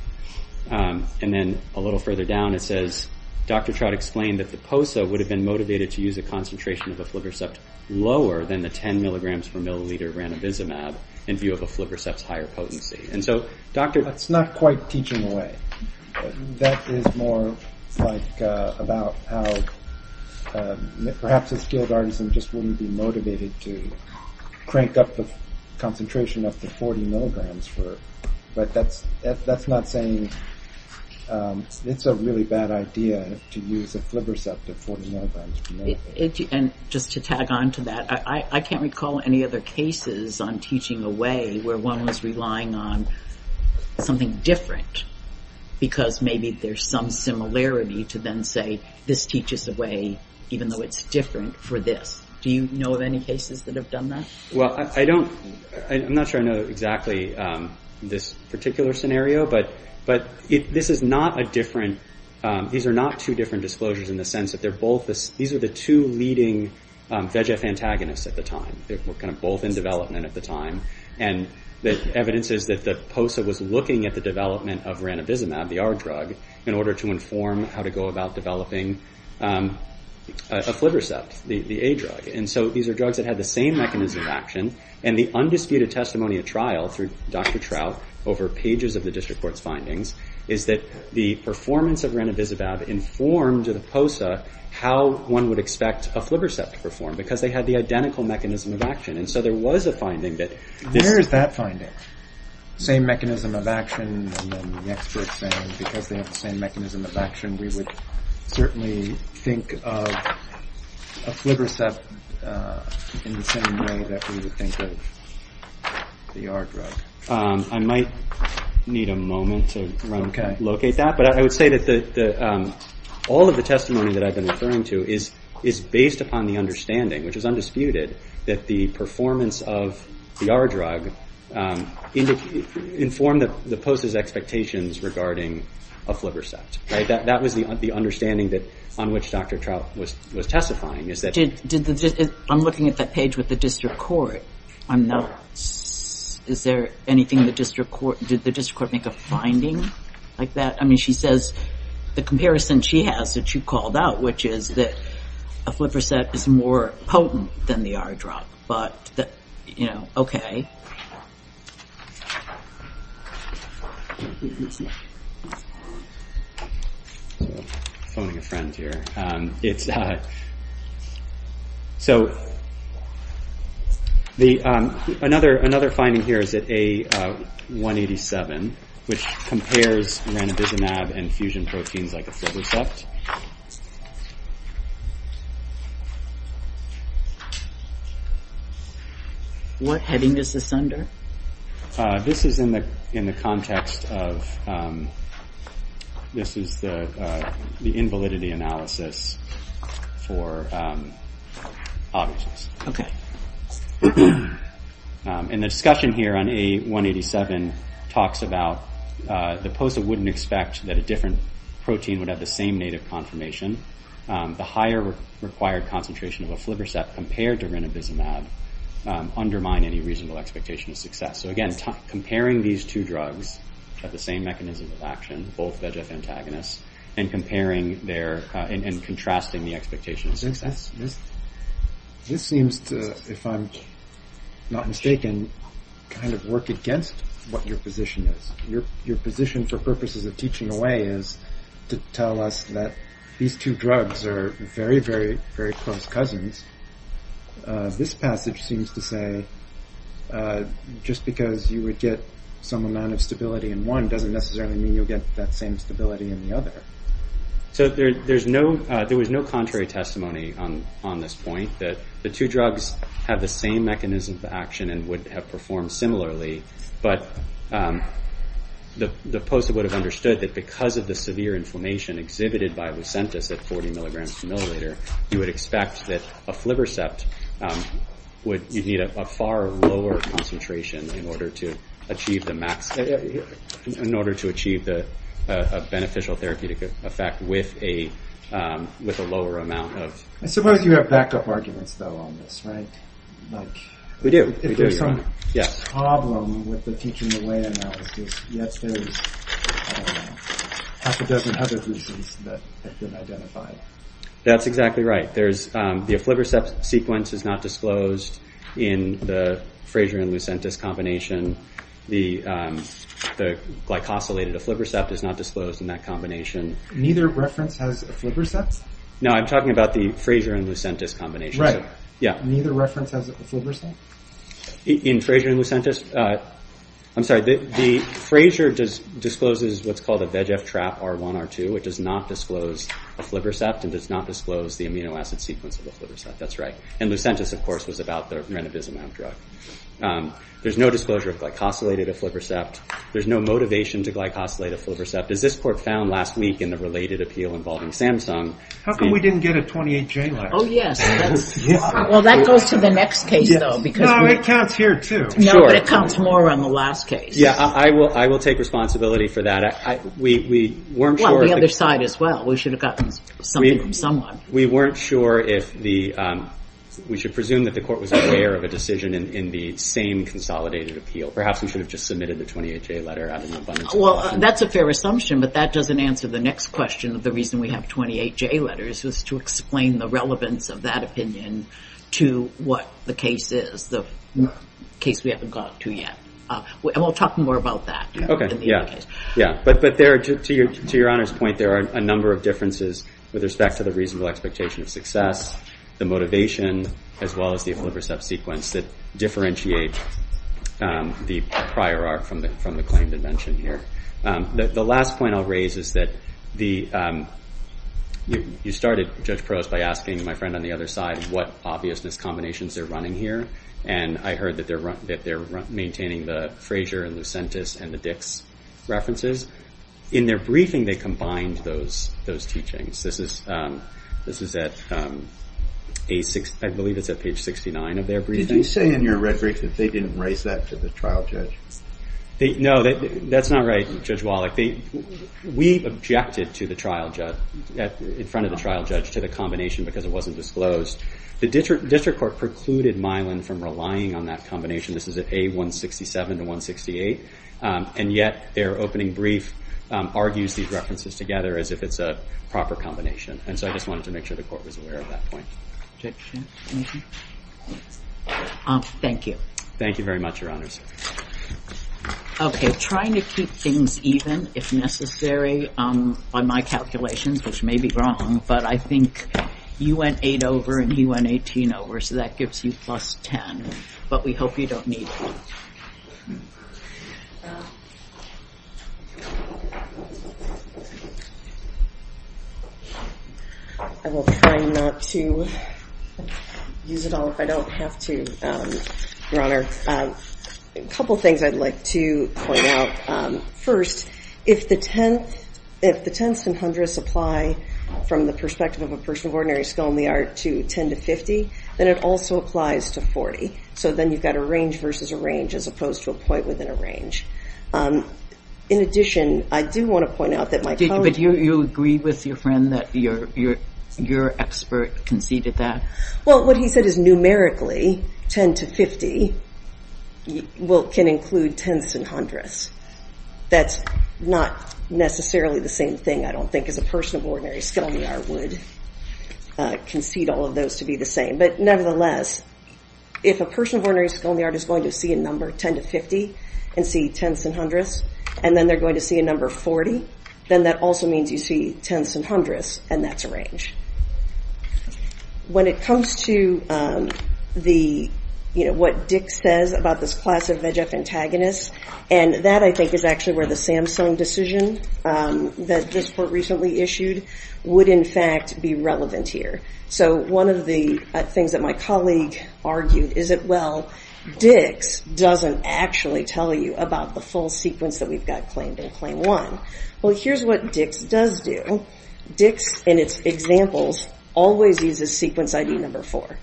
And then a little further down, it says, Dr. Trott explained that the POSA would have been motivated to use a concentration of a flibrocept lower than the 10 milligrams per milliliter renovizumab in view of a flibrocept's higher potency. And so, Doctor... That's not quite teaching away. That is more like about how perhaps a skilled artisan just wouldn't be motivated to crank up the concentration of the 40 milligrams for... But that's not saying... It's a really bad idea to use a flibrocept of 40 milligrams per milliliter. And just to tag on to that, I can't recall any other cases on teaching away where one was relying on something different because maybe there's some similarity to then say, this teaches away even though it's different for this. Do you know of any cases that have done that? Well, I don't... I'm not sure I know exactly this particular scenario, but this is not a different... These are not two different disclosures in the sense that they're both... These are the two leading VEGF antagonists at the time. They were kind of both in development at the time. And the evidence is that POSA was looking at the development of ranibizumab, the R drug, in order to inform how to go about developing a flibrocept, the A drug. And so, these are drugs that have the same mechanism of action. And the undisputed testimony at trial through Dr. Trout over pages of the district court's findings is that the performance of ranibizumab informed the POSA how one would expect a flibrocept to perform, because they had the identical mechanism of action. And so, there was a finding that... Where is that finding? Same mechanism of action and then the experts saying because they have the same mechanism of action, we would certainly think of a flibrocept in the same way that we would think of the R drug. I might need a moment to locate that, but I would say that all of the testimony that I've been referring to is based upon the understanding, which is undisputed, that the performance of the R drug informed the POSA's expectations regarding a flibrocept. That was the understanding on which Dr. Trout was testifying. I'm looking at that page with the district court. Is there anything the district court... Did the district court make a finding like that? I mean, she says the comparison she has that you called out, which is that a flibrocept is more potent than the R drug. But, you know, okay. I'm calling a friend here. So, another finding here is that A187, which compares ranibizumab and fusion proteins like a flibrocept. What heading is this under? This is in the context of... This is the invalidity analysis for autism. Okay. And the discussion here on A187 talks about the POSA wouldn't expect that a different protein would have the same native confirmation. The higher required concentration of a flibrocept compared to ranibizumab undermine any reasonable expectation of success. So, again, comparing these two drugs has the same mechanism of action, both VEGF antagonists, and comparing their... and contrasting the expectations. This seems to, if I'm not mistaken, kind of work against what your position is. Your position for purposes of teaching away is to tell us that these two drugs are very, very, very close cousins. This passage seems to say just because you would get some amount of stability in one doesn't necessarily mean you'll get that same stability in the other. So, there's no... there was no contrary testimony on this point that the two drugs have the same mechanism of action and would have performed similarly, but the poster would have understood that because of the severe inflammation exhibited by Lucentis at 40 milligrams per milliliter, you would expect that a flibrocept would need a far lower concentration in order to achieve the max... in order to achieve a beneficial therapeutic effect with a lower amount of... I suppose you have back-up arguments, though, on this, right? We do. If there's some problem with the teaching away analysis, yet there's half a dozen other groups that have been identified. That's exactly right. There's... the aflibrocept sequence is not disclosed in the Fraser and Lucentis combination. The glycosylated aflibrocept is not disclosed in that combination. Neither reference has aflibrocept? No, I'm talking about the Fraser and Lucentis combination. Neither reference has aflibrocept? In Fraser and Lucentis, I'm sorry, the Fraser discloses what's called a VEGF trap R1, R2. It does not disclose aflibrocept and does not disclose the amino acid sequence of aflibrocept. That's right. And Lucentis, of course, is about the renovizumab drug. There's no disclosure of glycosylated aflibrocept. There's no motivation to glycosylate aflibrocept. And this report found last week in a related appeal involving Samsung... How come we didn't get a 28J lab? Oh, yes. Well, that goes to the next case, though. No, it counts here, too. No, it counts more on the last case. Yeah, I will take responsibility for that. We weren't sure... Well, the other side as well. We should have gotten something from someone. We weren't sure if the... We should presume that the court was aware of the decision in the same consolidated appeal. Perhaps we should have just submitted the 28J letter out of no-funds. Well, that's a fair assumption, but that doesn't answer the next question of the reason we have 28J letters is to explain the relevance of that opinion to what the case is, which is the case we haven't gotten to yet. And we'll talk more about that. Okay, yeah. Yeah, but there, to your honest point, there are a number of differences with respect to the reasonable expectation of success, the motivation, as well as the oblivious sub-sequence that differentiate the prior art from the claim that I mentioned here. The last point I'll raise is that the... You started, Judge Prose, by asking my friend on the other side what obviousness combinations they're running here. And I heard that they're maintaining the Frazier and the Sentis and the Dix references. In their briefing, they combined those teachings. This is at page 69, I believe. Did you say in your reference that they didn't raise that to the trial judge? No, that's not right, Judge Wallach. We objected to the trial judge, in front of the trial judge, to the combination because it wasn't disclosed. The district court precluded Milan from relying on that combination. This is at A167 to 168. And yet, their opening brief argues these references together as if it's a proper combination. And so I just wanted to make sure the court was aware of that point. Thank you. Thank you very much, Your Honors. Okay, trying to keep things even, if necessary, on my calculations, which may be wrong, but I think you went eight over and you went 18 over, so that gives you plus 10. But we hope you don't need it. I will try not to use it all if I don't have to, Your Honor. A couple things I'd like to point out. First, if the 10th and 100th apply from the perspective of a person of ordinary skill in the art to 10 to 50, then it also applies to 40. So then you've got a range versus a range as opposed to a point within a range. In addition, I do want to point out that my... But you agree with your friend that your expert conceded that? Well, what he said is numerically 10 to 50 can include 10ths and 100ths. That's not necessarily the same thing, I don't think, as a person of ordinary skill in the art would concede all of those to be the same. But nevertheless, if a person of ordinary skill in the art is going to see a number 10 to 50 and see 10ths and 100ths and then they're going to see a number 40, then that also means you see 10ths and 100ths and that's a range. When it comes to the, you know, what Dick says about this class of VEGF antagonists, and that, I think, is actually where the Samsung decision that this court recently issued would, in fact, be relevant here. So one of the things that my colleague argued is that, well, Dick doesn't actually tell you about the full sequence that we've got claimed in claim one. Well, here's what Dick does do. Dick, in his examples, always uses sequence ID number four.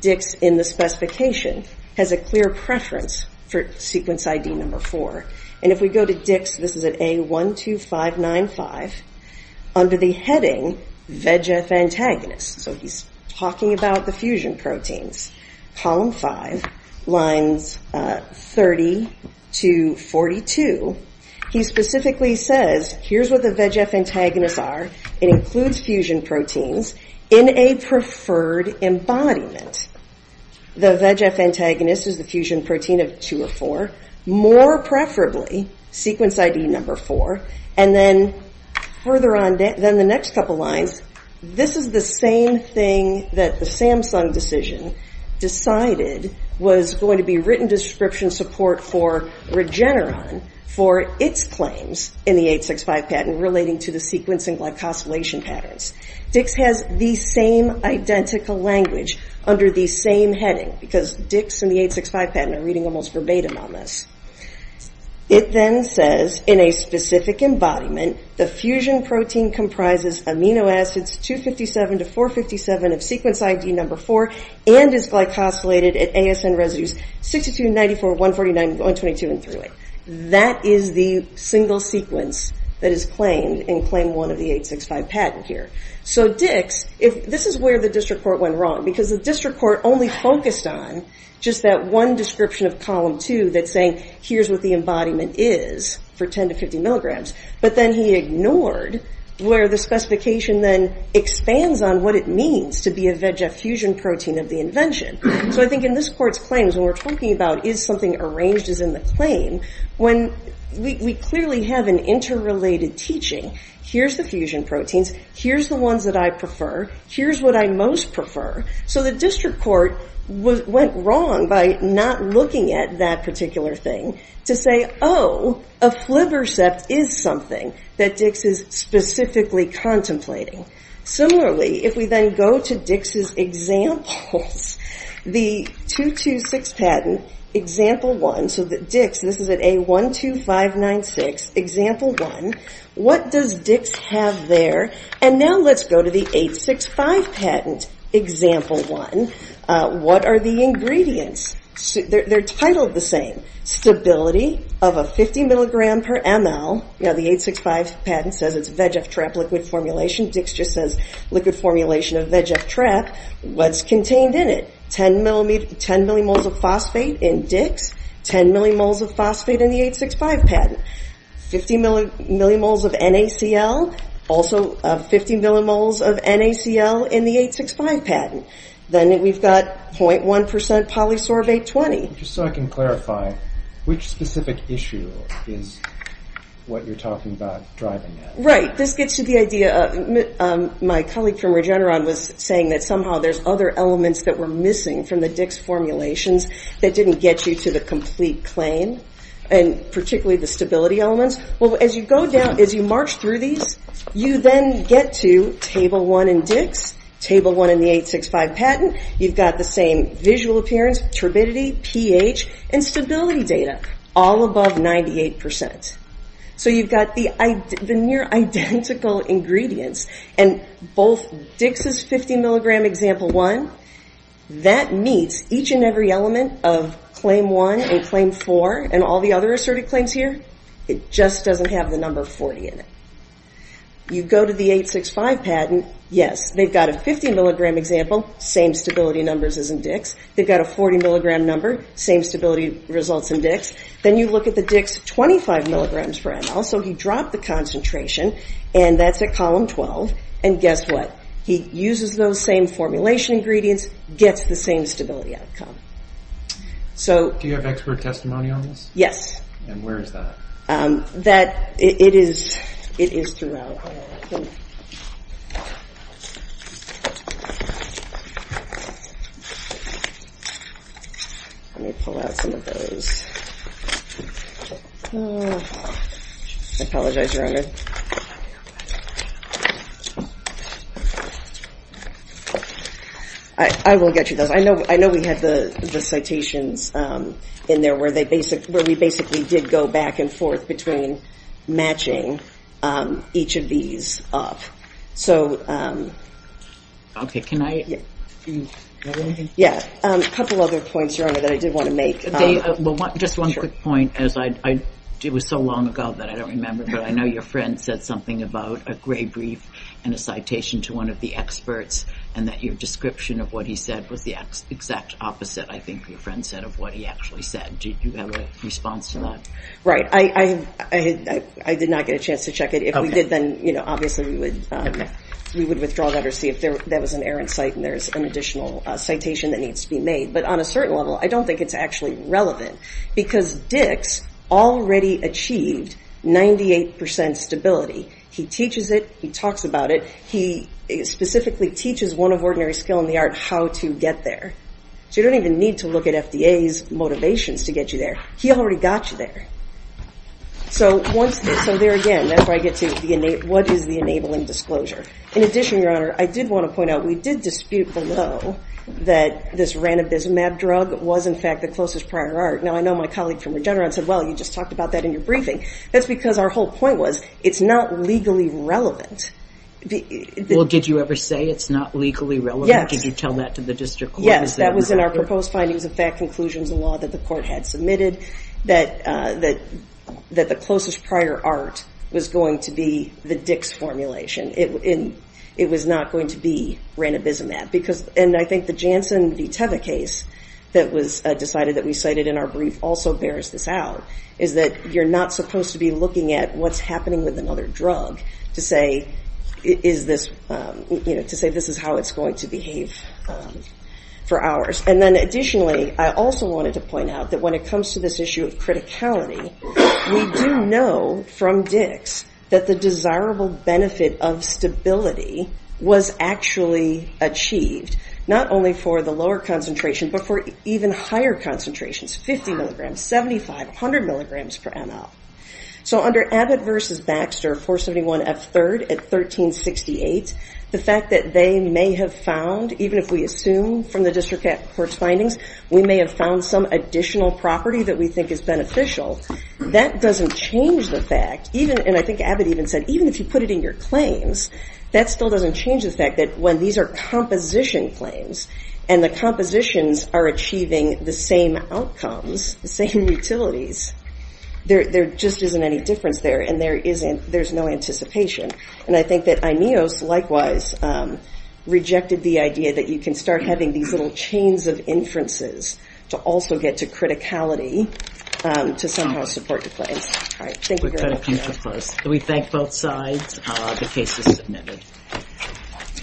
Dick, in the specification, has a clear preference for sequence ID number four. And if we go to Dick's, this is at A12595, under the heading VEGF antagonist. So he's talking about the fusion proteins. Column five, lines 30 to 42, he specifically says, here's what the VEGF antagonists are. It includes fusion proteins in a preferred embodiment. The VEGF antagonist is the fusion protein of two or four. More preferably, sequence ID number four, and then further on, then the next couple lines, this is the same thing that the Samsung decision decided was going to be written description support for Regeneron for its claims in the 865 patent relating to the sequencing glycosylation patterns. Dick has the same identical language under the same heading because Dick's and the 865 patent are reading almost verbatim on this. It then says, in a specific embodiment, the fusion protein comprises amino acids 257 to 457 of sequence ID number four and is glycosylated at ASN residues 62 to 94, 149 to 122, and through it. That is the single sequence that is claimed in claim one of the 865 patent here. So Dick, this is where the disreport went wrong because the disreport only focused on just that one description of column two that's saying, here's what the embodiment is for 10 to 50 milligrams. But then he ignored where the specification then expands on what it means to be a fusion protein of the invention. So I think in this court's claims when we're talking about is something arranged as in the claim, when we clearly have an interrelated teaching, here's the fusion proteins, here's the ones that I prefer, here's what I most prefer. So the disreport went wrong by not looking at that particular thing to say, oh, a flipper set is something that Dix is specifically contemplating. Similarly, if we then go to Dix's examples, the 226 patent, example one, so that Dix, this is at A12596, example one, what does Dix have there? And now let's go to the 865 patent, example one. What are the ingredients? They're titled the same. Stability of a 50 milligram per ml, yeah, the 865 patent says it's VEGF-TREP liquid formulation, Dix just said liquid formulation of VEGF-TREP was contained in it. 10 millimoles of phosphate in Dix, 10 millimoles of phosphate in the 865 patent. 50 millimoles of NACL, also 50 millimoles of NACL in the 865 patent. Then we've got 0.1% polysorbate 20. Just so I can clarify, which specific issue is what you're talking about driving that? Right, this gets to the idea, my colleague from Regeneron was saying that somehow there's other elements that were missing from the Dix formulations that didn't get you to the complete claim, and particularly the stability elements. Well, as you go down, as you march through these, you then get to table one in Dix, table one in the 865 patent, you've got the same visual appearance, turbidity, pH, and stability data all above 98%. So you've got the near identical ingredients, and both Dix's 50 milligram example one, that meets each and every element of claim one and claim four and all the other asserted claims here. It just doesn't have the number 40 in it. You go to the 865 patent, yes, they've got a 50 milligram example, same stability numbers as in Dix. They've got a 40 milligram number, same stability results in Dix. Then you look at the Dix 25 milligrams for ML, so he dropped the concentration, and that's at column 12, and guess what? He uses those same formulation ingredients, gets the same stability outcome. So... Do you have expert testimony on this? Yes. And where is that? That, it is, it is to the... Okay. Let me pull out some of those. I apologize around this. I will get you those. I know we had the citations in there where they basically, where we basically did go back and forth between matching each of these up. So... Okay, can I... Yes, a couple other points around it that I did want to make. Just one quick point, as I, it was so long ago that I don't remember, but I know your friend said something about a gray brief and a citation to one of the experts, and that your description of what he said was the exact opposite, I think your friend said, of what he actually said. Do you have a response to that? Right, I did not get a chance to check it. If we did, then obviously we would withdraw that or see if there was an error in sight and there's an additional citation that needs to be made. But on a certain level, I don't think it's actually relevant because Dick already achieved 98% stability. He teaches it. He talks about it. He specifically teaches one of Ordinary Skill in the Arts how to get there. So you don't even need to look at FDA's motivations to get you there. He already got you there. So there again, that's where I get to what is the enabling disclosure. In addition, Your Honor, I did want to point out we did dispute below that this Ranibizumab drug was in fact the closest prior art. Now, I know my colleague from Regeneron said, well, you just talked about that in your briefing. That's because our whole point was it's not legally relevant. Well, did you ever say it's not legally relevant? Yes. Did you tell that to the district court? Yes, that was in our proposed findings and fact conclusions and law that the court had submitted that the closest prior art was going to be the Dix formulation. It was not going to be Ranibizumab. And I think the Janssen v. Teva case that was decided that we cited in our brief also bears this out, is that you're not supposed to be looking at what's happening with another drug to say this is how it's going to behave for hours. And then additionally, I also wanted to point out that when it comes to this issue of criticality, we do know from Dix that the desirable benefit of stability was actually achieved, not only for the lower concentrations, but for even higher concentrations, 50 milligrams, 75, 100 milligrams per ml. So under Abbott v. Baxter, 471F3rd at 1368, the fact that they may have found, even if we assume from the district court's findings, we may have found some additional property that we think is beneficial, that doesn't change the fact, and I think Abbott even said, even if you put it in your claims, that still doesn't change the fact that when these are composition claims and the compositions are achieving the same outcomes, the same utilities, there just isn't any difference there and there's no anticipation. And I think that IMEOS, rejected the idea that you can start having these little chains of inferences to also get to criticality to somehow support your claim. All right. Thank you very much. We thank both sides. The case is submitted.